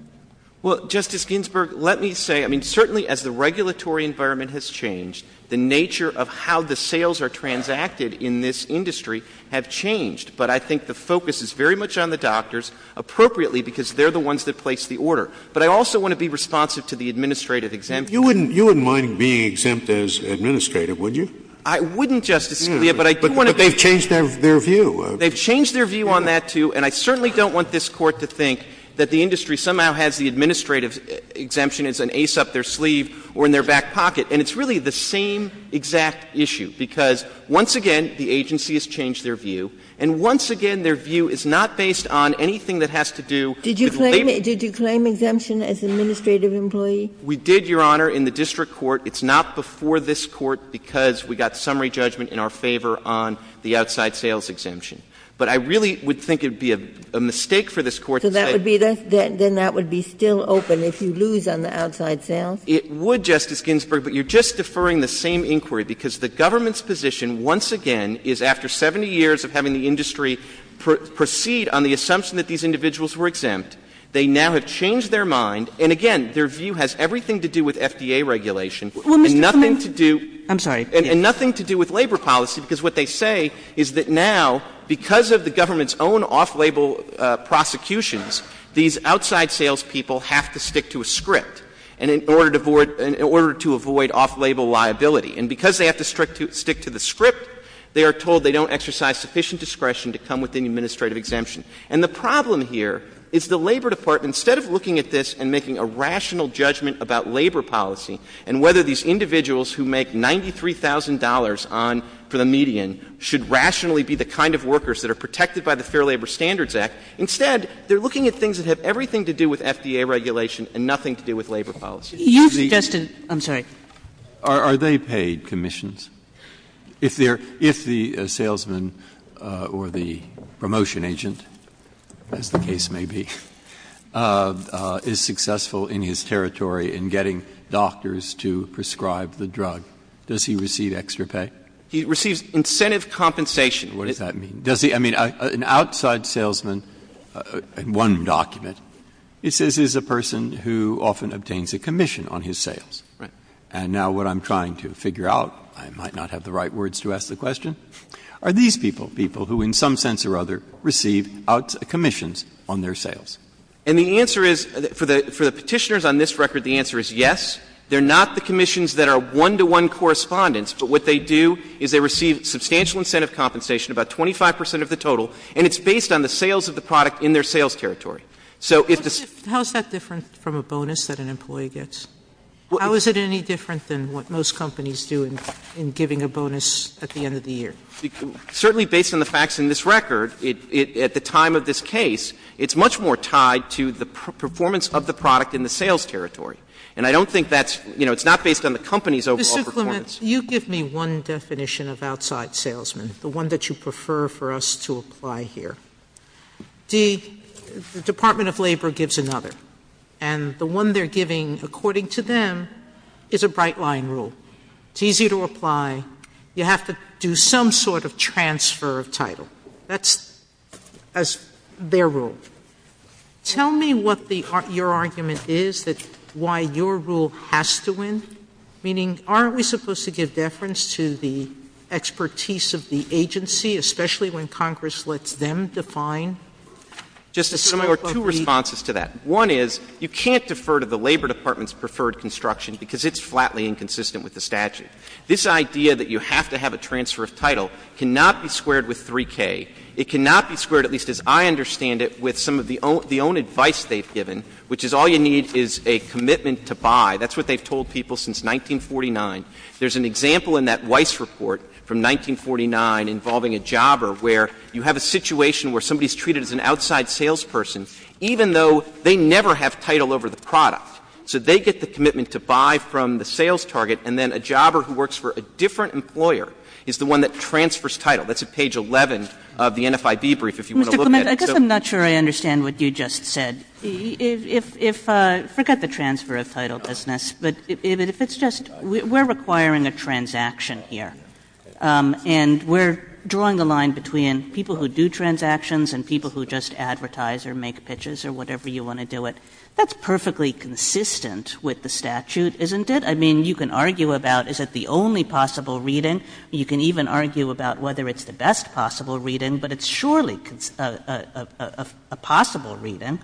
Well, Justice Ginsburg, let me say, I mean, certainly as the regulatory environment has changed, the nature of how the sales are transacted in this industry have changed. But I think the focus is very much on the doctors, appropriately, because they're the ones that place the order. But I also want to be responsive to the administrative exemption. You wouldn't mind being exempt as administrative, would you? I wouldn't, Justice Scalia, but I do want to be. But they've changed their view. They've changed their view on that, too. And I certainly don't want this Court to think that the industry somehow has the administrative exemption as an ace up their sleeve or in their back pocket. And it's really the same exact issue, because once again, the agency has changed their view, and once again, their view is not based on anything that has to do with labor. Did you claim exemption as administrative employee? We did, Your Honor, in the district court. It's not before this Court, because we got summary judgment in our favor on the outside sales exemption. But I really would think it would be a mistake for this Court to say that. So that would be still open if you lose on the outside sales? It would, Justice Ginsburg, but you're just deferring the same inquiry, because the government's position, once again, is after 70 years of having the industry proceed on the assumption that these individuals were exempt, they now have changed their mind. And again, their view has everything to do with FDA regulation, and nothing to do — Well, Mr. Clement, I'm sorry. And nothing to do with labor policy, because what they say is that now, because of the government's own off-label prosecutions, these outside salespeople have to stick to a script in order to avoid — in order to avoid off-label liability. And because they have to stick to the script, they are told they don't exercise sufficient discretion to come within the administrative exemption. And the problem here is the Labor Department, instead of looking at this and making a rational judgment about labor policy and whether these individuals who make $93,000 on — for the median should rationally be the kind of workers that are protected by the Fair Labor Standards Act, instead, they're looking at things that have everything to do with FDA regulation and nothing to do with labor policy. You've suggested — I'm sorry. Are they paid commissions? If they're — if the salesman or the promotion agent, as the case may be, is successful in his territory in getting doctors to prescribe the drug, does he receive extra pay? He receives incentive compensation. What does that mean? Does he — I mean, an outside salesman in one document, it says he's a person who often obtains a commission on his sales. Right. And now what I'm trying to figure out — I might not have the right words to ask the question — are these people, people who in some sense or other receive commissions on their sales? And the answer is — for the Petitioners on this record, the answer is yes. They're not the commissions that are one-to-one correspondents. But what they do is they receive substantial incentive compensation, about 25 percent of the total, and it's based on the sales of the product in their sales territory. So if the — How is that different from a bonus that an employee gets? How is it any different than what most companies do in giving a bonus at the end of the year? Certainly based on the facts in this record, at the time of this case, it's much more tied to the performance of the product in the sales territory. And I don't think that's — you know, it's not based on the company's overall performance. Mr. Clement, you give me one definition of outside salesman, the one that you prefer for us to apply here. The Department of Labor gives another, and the one they're giving, according to them, is a bright-line rule. It's easy to apply. You have to do some sort of transfer of title. That's as their rule. Tell me what the — your argument is that — why your rule has to win, meaning, aren't we supposed to give deference to the expertise of the agency, especially when Congress lets them define the scope of the — Justice Sotomayor, two responses to that. One is, you can't defer to the Labor Department's preferred construction because it's flatly inconsistent with the statute. This idea that you have to have a transfer of title cannot be squared with 3K. It cannot be squared, at least as I understand it, with some of the own — the own advice they've given, which is all you need is a commitment to buy. That's what they've told people since 1949. There's an example in that Weiss report from 1949 involving a jobber where you have a situation where somebody is treated as an outside salesperson, even though they never have title over the product. So they get the commitment to buy from the sales target, and then a jobber who works for a different employer is the one that transfers title. That's at page 11 of the NFIB brief, if you want to look at it. Kagan. I guess I'm not sure I understand what you just said. If — if — forget the transfer of title business, but if it's just — we're requiring a transaction here, and we're drawing the line between people who do transactions and people who just advertise or make pitches or whatever you want to do it. That's perfectly consistent with the statute, isn't it? I mean, you can argue about is it the only possible reading. You can even argue about whether it's the best possible reading, but it's surely a possible reading.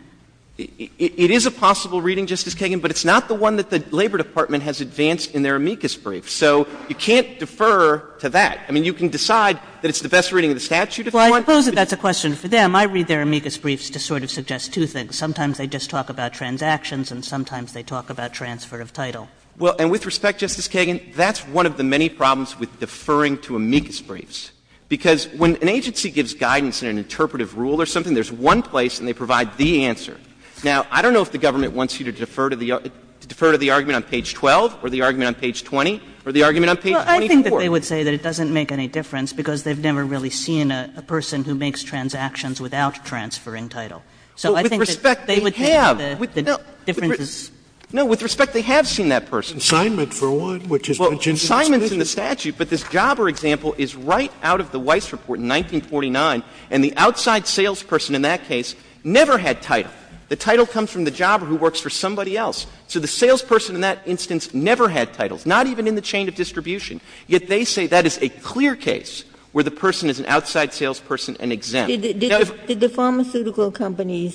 It is a possible reading, Justice Kagan, but it's not the one that the Labor Department has advanced in their amicus brief. So you can't defer to that. I mean, you can decide that it's the best reading of the statute if you want. Well, I suppose that that's a question for them. I read their amicus briefs to sort of suggest two things. Sometimes they just talk about transactions, and sometimes they talk about transfer of title. Well, and with respect, Justice Kagan, that's one of the many problems with deferring to amicus briefs, because when an agency gives guidance in an interpretive rule or something, there's one place and they provide the answer. Now, I don't know if the government wants you to defer to the argument on page 12 or the argument on page 20 or the argument on page 24. Well, I think that they would say that it doesn't make any difference because they've never really seen a person who makes transactions without transferring title. So I think that they would think that the difference is no. With respect, they have seen that person. Assignment, for one, which is mentioned in the submission. Well, assignment's in the statute, but this Jobber example is right out of the Weiss Report in 1949, and the outside salesperson in that case never had title. The title comes from the Jobber who works for somebody else. So the salesperson in that instance never had titles, not even in the chain of distribution. Yet they say that is a clear case where the person is an outside salesperson and exempt. Now, if you're going to defer to the argument on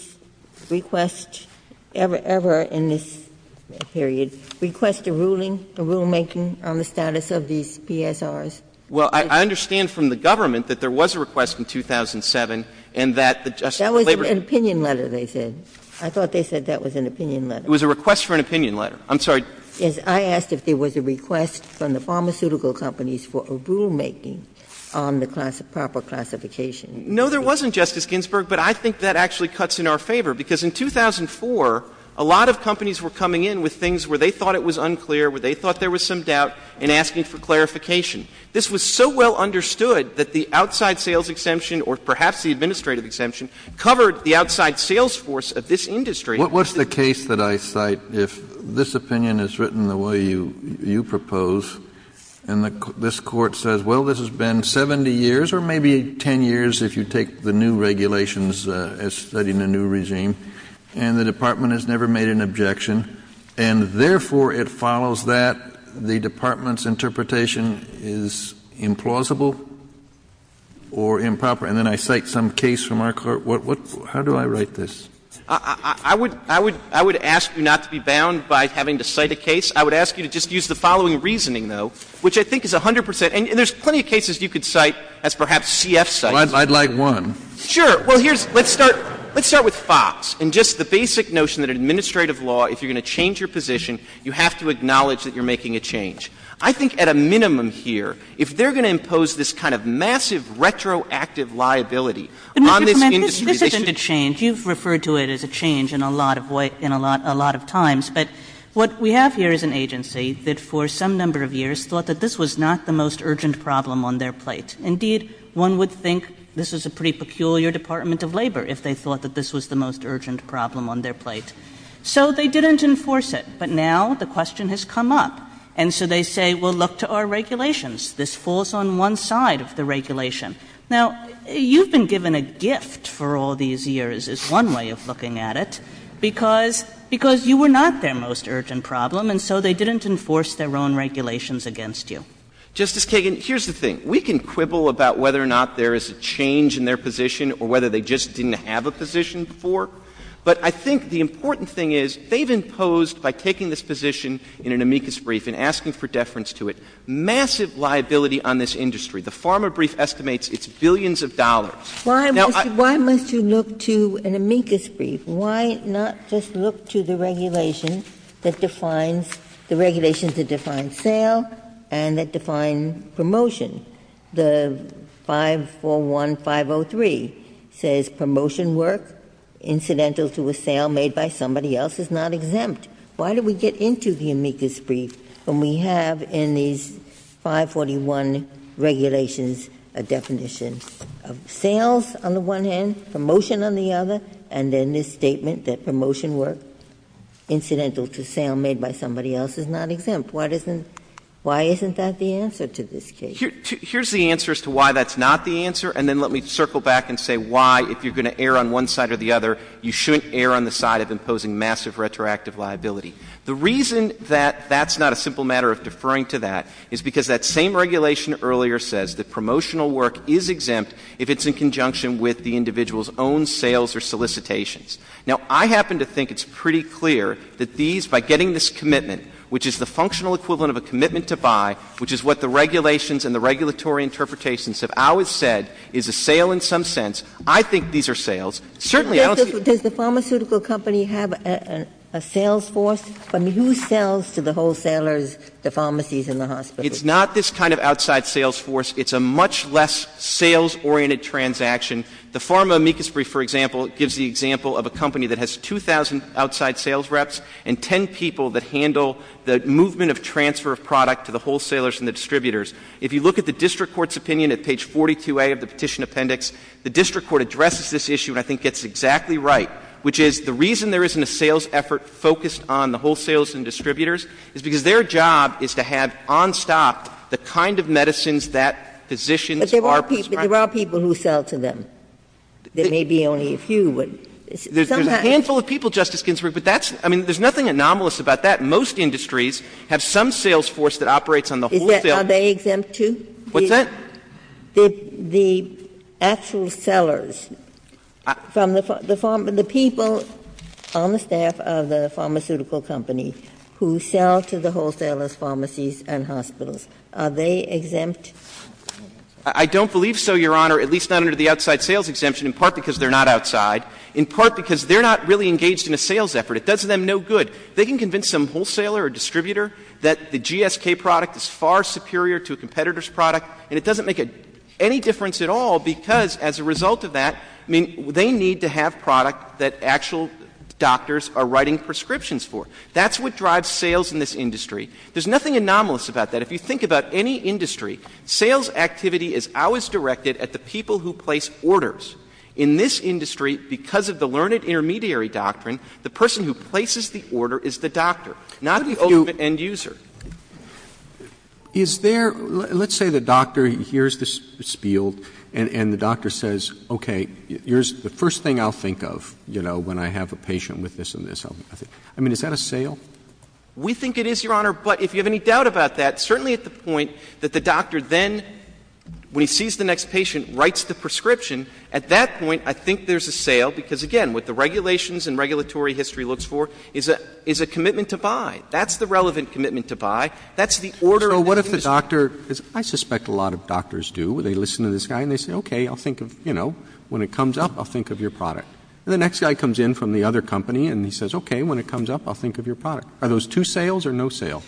page 12 or the argument on page 24, I think that's one of the many problems with deferring to amicus briefs. Justice Breyer, there are other documents in this HEC motion that I know you're aware of, that there was a request in 2007, and that the Justice of Carla Baber… That was opinion letter they said. I thought they said that was an opinion letter. It was a request for an opinion letter. I'm sorry. Yes. I asked if there was a request from the pharmaceutical companies for a rulemaking on the class of proper classification. No, there wasn't, Justice Ginsburg, but I think that actually cuts in our favor. Because in 2004, a lot of companies were coming in with things where they thought it was unclear, where they thought there was some doubt, and asking for clarification. This was so well understood that the outside sales exemption, or perhaps the administrative exemption, covered the outside sales force of this industry. What's the case that I cite if this opinion is written the way you propose, and this Court says, well, this has been 70 years, or maybe 10 years, if you take the new regulations as studying a new regime, and the Department has never made an objection, and therefore it follows that the Department's interpretation is implausible or improper? And then I cite some case from our Court. What — how do I write this? I would — I would — I would ask you not to be bound by having to cite a case. I would ask you to just use the following reasoning, though, which I think is 100 percent — and there's plenty of cases you could cite as perhaps CF cites. I'd like one. Sure. Well, here's — let's start — let's start with Fox, and just the basic notion that in administrative law, if you're going to change your position, you have to acknowledge that you're making a change. I think at a minimum here, if they're going to impose this kind of massive retroactive liability on this industry, they should— But, Mr. Clement, this isn't a change. You've referred to it as a change in a lot of — in a lot of times. But what we have here is an agency that for some number of years thought that this was not the most urgent problem on their plate. Indeed, one would think this was a pretty peculiar Department of Labor if they thought that this was the most urgent problem on their plate. So they didn't enforce it. But now the question has come up. And so they say, well, look to our regulations. This falls on one side of the regulation. Now, you've been given a gift for all these years, is one way of looking at it, because you were not their most urgent problem, and so they didn't enforce their own regulations against you. Justice Kagan, here's the thing. We can quibble about whether or not there is a change in their position or whether they just didn't have a position before. But I think the important thing is they've imposed, by taking this position in an amicus brief and asking for deference to it, massive liability on this industry. The PhRMA brief estimates it's billions of dollars. Now, I— Why must you look to an amicus brief? Why not just look to the regulation that defines—the regulations that define sale and that define promotion? The 541-503 says, promotion work incidental to a sale made by somebody else is not exempt. Why do we get into the amicus brief when we have in these 541 regulations a definition of sales on the one hand, promotion on the other, and then this statement that promotion work incidental to sale made by somebody else is not exempt? Why doesn't — why isn't that the answer to this case? Here's the answer as to why that's not the answer, and then let me circle back and say why, if you're going to err on one side or the other, you shouldn't err on the side of imposing massive retroactive liability. The reason that that's not a simple matter of deferring to that is because that same regulation earlier says that promotional work is exempt if it's in conjunction with the individual's own sales or solicitations. Now, I happen to think it's pretty clear that these, by getting this commitment, which is the functional equivalent of a commitment to buy, which is what the regulations and the regulatory interpretations have always said is a sale in some sense, I think these are sales. Certainly, I don't see— But does the pharmaceutical company have a sales force? I mean, who sells to the wholesalers, the pharmacies and the hospitals? It's not this kind of outside sales force. It's a much less sales-oriented transaction. The pharma amicus brief, for example, gives the example of a company that has 2,000 outside sales reps and 10 people that handle the movement of transfer of product to the wholesalers and the distributors. If you look at the district court's opinion at page 42A of the Petition Appendix, the district court addresses this issue and I think gets it exactly right, which is the reason there isn't a sales effort focused on the wholesalers and distributors is because their job is to have on stop the kind of medicines that physicians are prescribing. But there are people who sell to them. There may be only a few, but somehow— There's a handful of people, Justice Ginsburg, but that's — I mean, there's nothing anomalous about that. Most industries have some sales force that operates on the wholesale— Is that — are they exempt, too? What's that? The actual sellers from the — the people on the staff of the pharmaceutical company who sell to the wholesalers, pharmacies and hospitals, are they exempt? I don't believe so, Your Honor, at least not under the outside sales exemption, in part because they're not outside, in part because they're not really engaged in a sales effort. It does them no good. They can convince some wholesaler or distributor that the GSK product is far superior to a competitor's product, and it doesn't make any difference at all because, as a result of that, I mean, they need to have product that actual doctors are writing prescriptions for. That's what drives sales in this industry. There's nothing anomalous about that. If you think about any industry, sales activity is always directed at the people who place orders. In this industry, because of the learned intermediary doctrine, the person who places the order is the doctor, not the ultimate end user. Is there — let's say the doctor hears this spiel and the doctor says, okay, here's the first thing I'll think of, you know, when I have a patient with this and this. I mean, is that a sale? We think it is, Your Honor, but if you have any doubt about that, certainly at the point that the doctor then, when he sees the next patient, writes the prescription, at that point I think there's a sale because, again, what the regulations and regulatory history looks for is a commitment to buy. That's the relevant commitment to buy. That's the order of the industry. So what if the doctor — I suspect a lot of doctors do. They listen to this guy and they say, okay, I'll think of — you know, when it comes up, I'll think of your product. And the next guy comes in from the other company and he says, okay, when it comes up, I'll think of your product. Are those two sales or no sale?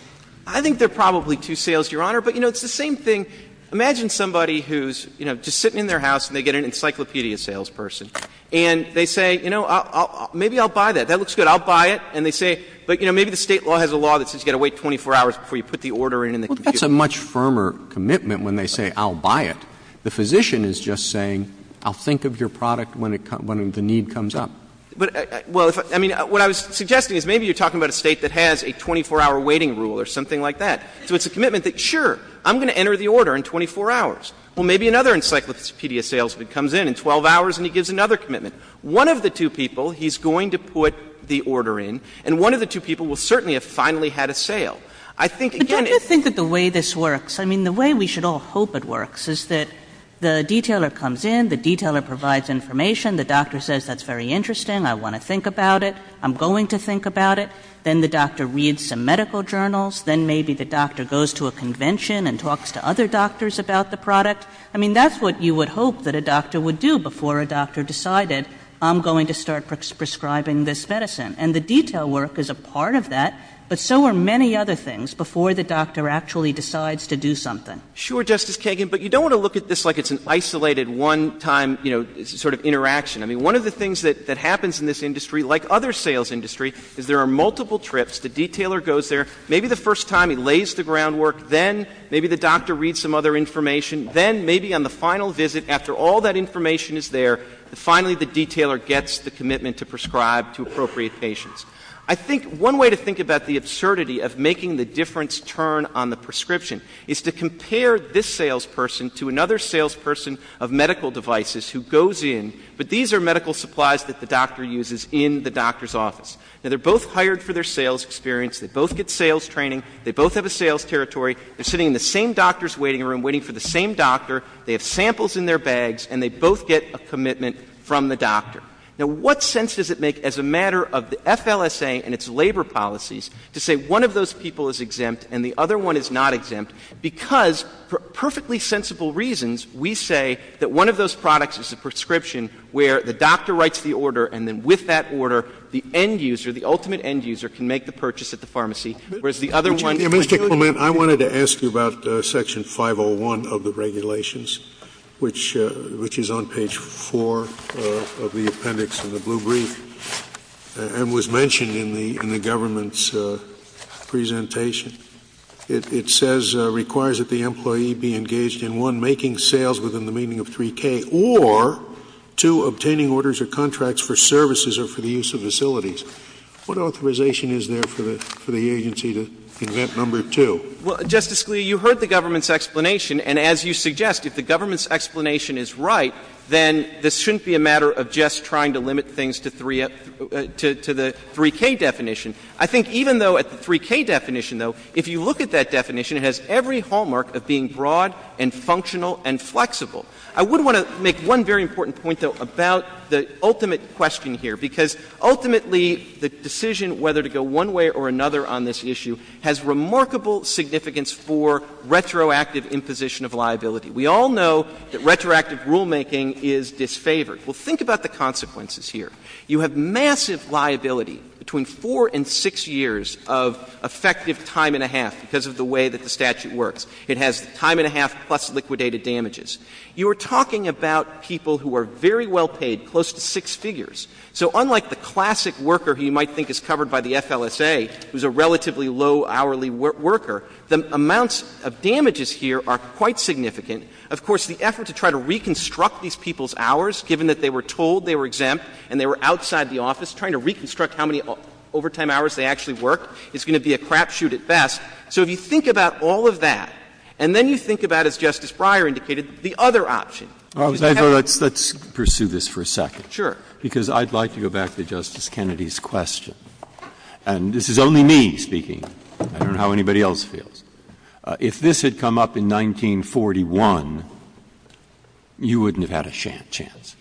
I think they're probably two sales, Your Honor. But, you know, it's the same thing — imagine somebody who's, you know, just sitting in their house and they get an encyclopedia salesperson, and they say, you know, maybe I'll buy that. That looks good. I'll buy it. And they say — but, you know, maybe the State law has a law that says you've got to wait 24 hours before you put the order in and the computer — Well, that's a much firmer commitment when they say, I'll buy it. The physician is just saying, I'll think of your product when the need comes up. But — well, I mean, what I was suggesting is maybe you're talking about a State that has a 24-hour waiting rule or something like that. So it's a commitment that, sure, I'm going to enter the order in 24 hours. Well, maybe another encyclopedia salesman comes in in 12 hours and he gives another commitment. One of the two people, he's going to put the order in, and one of the two people will certainly have finally had a sale. I think, again — But don't you think that the way this works — I mean, the way we should all hope it — the detailer comes in, the detailer provides information, the doctor says, that's very interesting, I want to think about it, I'm going to think about it. Then the doctor reads some medical journals. Then maybe the doctor goes to a convention and talks to other doctors about the product. I mean, that's what you would hope that a doctor would do before a doctor decided, I'm going to start prescribing this medicine. And the detail work is a part of that. But so are many other things before the doctor actually decides to do something. Sure, Justice Kagan, but you don't want to look at this like it's an isolated, one-time, you know, sort of interaction. I mean, one of the things that happens in this industry, like other sales industry, is there are multiple trips. The detailer goes there, maybe the first time he lays the groundwork. Then maybe the doctor reads some other information. Then maybe on the final visit, after all that information is there, finally the detailer gets the commitment to prescribe to appropriate patients. I think one way to think about the absurdity of making the difference turn on the is to compare this salesperson to another salesperson of medical devices who goes in, but these are medical supplies that the doctor uses in the doctor's office. Now, they're both hired for their sales experience. They both get sales training. They both have a sales territory. They're sitting in the same doctor's waiting room, waiting for the same doctor. They have samples in their bags. And they both get a commitment from the doctor. Now, what sense does it make as a matter of the FLSA and its labor policies to say one of those people is exempt and the other one is not exempt, because, for perfectly sensible reasons, we say that one of those products is a prescription where the doctor writes the order, and then with that order, the end user, the ultimate end user, can make the purchase at the pharmacy, whereas the other one can't do it? Scalia. Mr. Clement, I wanted to ask you about section 501 of the regulations, which is on page 4 of the appendix in the blue brief and was mentioned in the government's presentation. It says it requires that the employee be engaged in, one, making sales within the meaning of 3K, or, two, obtaining orders or contracts for services or for the use of facilities. What authorization is there for the agency to invent number 2? Justice Scalia, you heard the government's explanation, and as you suggest, if the government's right, then this shouldn't be a matter of just trying to limit things to 3K definition. I think even though at the 3K definition, though, if you look at that definition, it has every hallmark of being broad and functional and flexible. I would want to make one very important point, though, about the ultimate question here, because ultimately the decision whether to go one way or another on this issue has remarkable significance for retroactive imposition of liability. We all know that retroactive rulemaking is disfavored. Well, think about the consequences here. You have massive liability, between 4 and 6 years of effective time and a half, because of the way that the statute works. It has time and a half plus liquidated damages. You are talking about people who are very well paid, close to 6 figures. So unlike the classic worker who you might think is covered by the FLSA, who is a relatively low hourly worker, the amounts of damages here are quite significant. Of course, the effort to try to reconstruct these people's hours, given that they were told they were exempt and they were outside the office, trying to reconstruct how many overtime hours they actually worked is going to be a crapshoot at best. So if you think about all of that, and then you think about, as Justice Breyer indicated, the other option. Breyer, let's pursue this for a second. Sure. Because I would like to go back to Justice Kennedy's question, and this is only me speaking. I don't know how anybody else feels. If this had come up in 1941, you wouldn't have had a chance.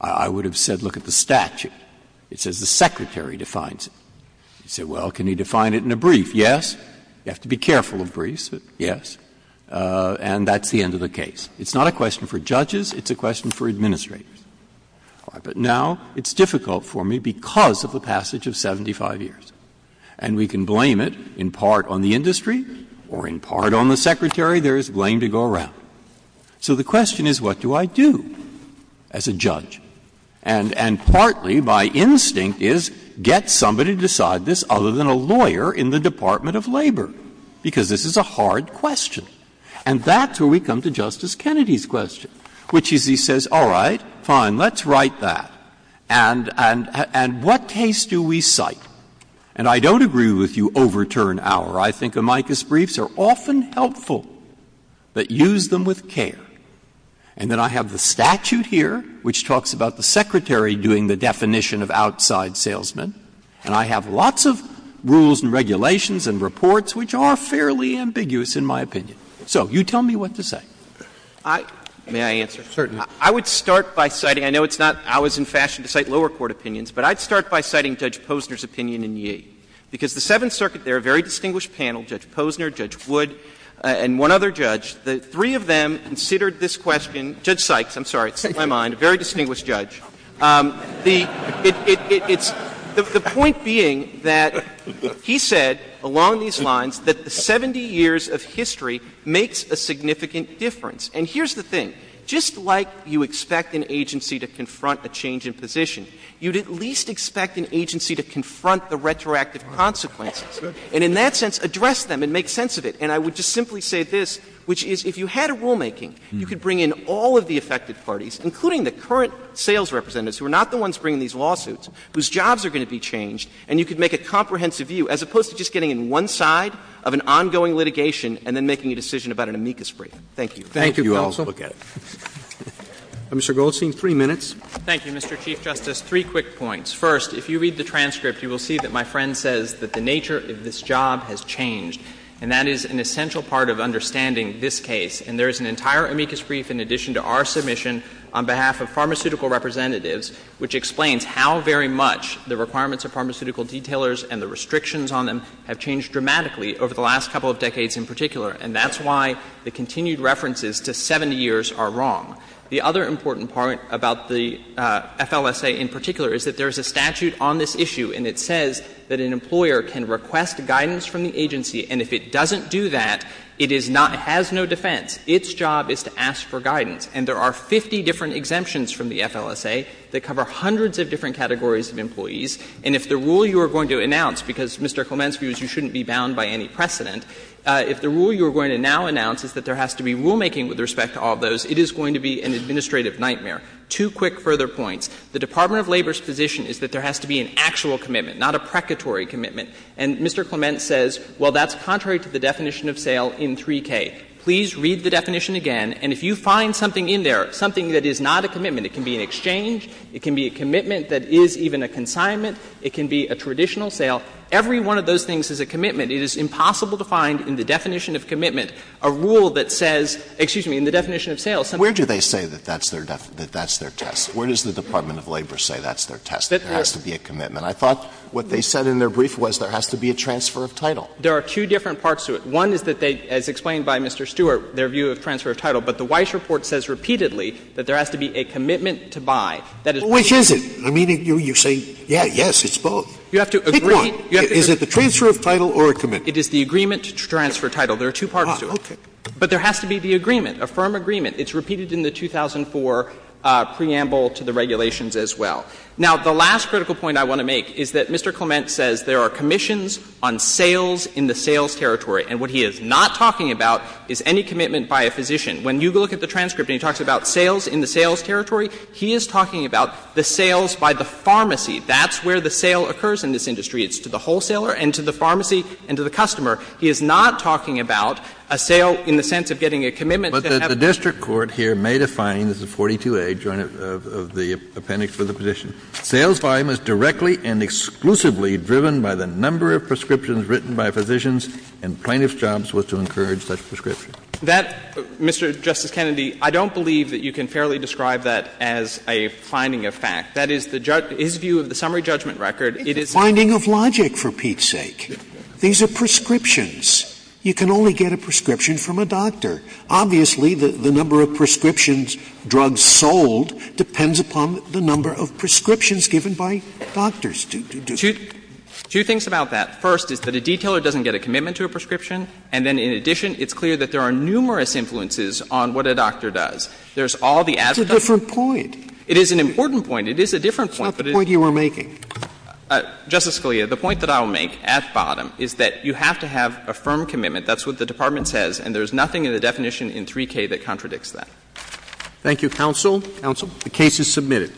I would have said, look at the statute. It says the Secretary defines it. You say, well, can he define it in a brief? Yes. You have to be careful of briefs, but yes. And that's the end of the case. It's not a question for judges. It's a question for administrators. But now it's difficult for me because of the passage of 75 years. And we can blame it in part on the industry or in part on the Secretary. There is blame to go around. So the question is, what do I do as a judge? And partly my instinct is get somebody to decide this other than a lawyer in the Department of Labor, because this is a hard question. And that's where we come to Justice Kennedy's question, which is he says, all right, And what case do we cite? And I don't agree with you overturn our. I think amicus briefs are often helpful, but use them with care. And then I have the statute here, which talks about the Secretary doing the definition of outside salesmen. And I have lots of rules and regulations and reports which are fairly ambiguous in my opinion. So you tell me what to say. May I answer? Certainly. I would start by citing, I know it's not ours in fashion to cite lower court opinions, but I'd start by citing Judge Posner's opinion in Yee. Because the Seventh Circuit, they're a very distinguished panel, Judge Posner, Judge Wood, and one other judge. The three of them considered this question. Judge Sykes, I'm sorry, it's in my mind, a very distinguished judge. The point being that he said along these lines that the 70 years of history makes a significant difference. And here's the thing. Just like you expect an agency to confront a change in position, you'd at least expect an agency to confront the retroactive consequences. And in that sense, address them and make sense of it. And I would just simply say this, which is if you had a rulemaking, you could bring in all of the affected parties, including the current sales representatives who are not the ones bringing these lawsuits, whose jobs are going to be changed, and you could make a comprehensive view, as opposed to just getting in one side of an ongoing litigation and then making a decision about an amicus brief. Thank you. Roberts, thank you also. Mr. Goldstein, three minutes. Thank you, Mr. Chief Justice. Three quick points. First, if you read the transcript, you will see that my friend says that the nature of this job has changed, and that is an essential part of understanding this case. And there is an entire amicus brief in addition to our submission on behalf of pharmaceutical representatives, which explains how very much the requirements of pharmaceutical detailers and the restrictions on them have changed dramatically over the last couple of decades in particular. And that's why the continued references to 70 years are wrong. The other important part about the FLSA in particular is that there is a statute on this issue, and it says that an employer can request guidance from the agency, and if it doesn't do that, it is not — has no defense. Its job is to ask for guidance. And there are 50 different exemptions from the FLSA that cover hundreds of different categories of employees. And if the rule you are going to announce, because, Mr. Clement, you shouldn't be bound by any precedent, if the rule you are going to now announce is that there has to be rulemaking with respect to all of those, it is going to be an administrative nightmare. Two quick further points. The Department of Labor's position is that there has to be an actual commitment, not a precatory commitment. And Mr. Clement says, well, that's contrary to the definition of sale in 3K. Please read the definition again, and if you find something in there, something that is not a commitment, it can be an exchange, it can be a commitment that is even a consignment, it can be a traditional sale. Every one of those things is a commitment. It is impossible to find in the definition of commitment a rule that says — excuse me, in the definition of sale, something— Scalia. Where do they say that that's their test? Where does the Department of Labor say that's their test, that there has to be a commitment? I thought what they said in their brief was there has to be a transfer of title. There are two different parts to it. One is that they, as explained by Mr. Stewart, their view of transfer of title. But the Weiss report says repeatedly that there has to be a commitment to buy. That is— Which is it? I mean, you say, yes, yes, it's both. You have to agree— Is it the transfer of title or a commitment? It is the agreement to transfer title. There are two parts to it. Ah, okay. But there has to be the agreement, a firm agreement. It's repeated in the 2004 preamble to the regulations as well. Now, the last critical point I want to make is that Mr. Clement says there are commissions on sales in the sales territory, and what he is not talking about is any commitment by a physician. When you look at the transcript and he talks about sales in the sales territory, he is talking about the sales by the pharmacy. That's where the sale occurs in this industry. It's to the wholesaler and to the pharmacy and to the customer. He is not talking about a sale in the sense of getting a commitment to have— But the district court here made a finding, this is 42A, joint of the appendix for the petition. Sales volume is directly and exclusively driven by the number of prescriptions written by physicians, and plaintiff's job was to encourage such prescriptions. That, Mr. Justice Kennedy, I don't believe that you can fairly describe that as a finding of fact. That is the judge's view of the summary judgment record. It's a finding of logic, for Pete's sake. These are prescriptions. You can only get a prescription from a doctor. Obviously, the number of prescriptions, drugs sold, depends upon the number of prescriptions given by doctors. Two things about that. First is that a detailer doesn't get a commitment to a prescription, and then in addition, it's clear that there are numerous influences on what a doctor does. There's all the ad hoc— It's a different point. It is an important point. It is a different point. It's not the point you were making. Justice Scalia, the point that I will make at the bottom is that you have to have a firm commitment. That's what the Department says, and there's nothing in the definition in 3K that contradicts that. Thank you, counsel. Counsel. The case is submitted.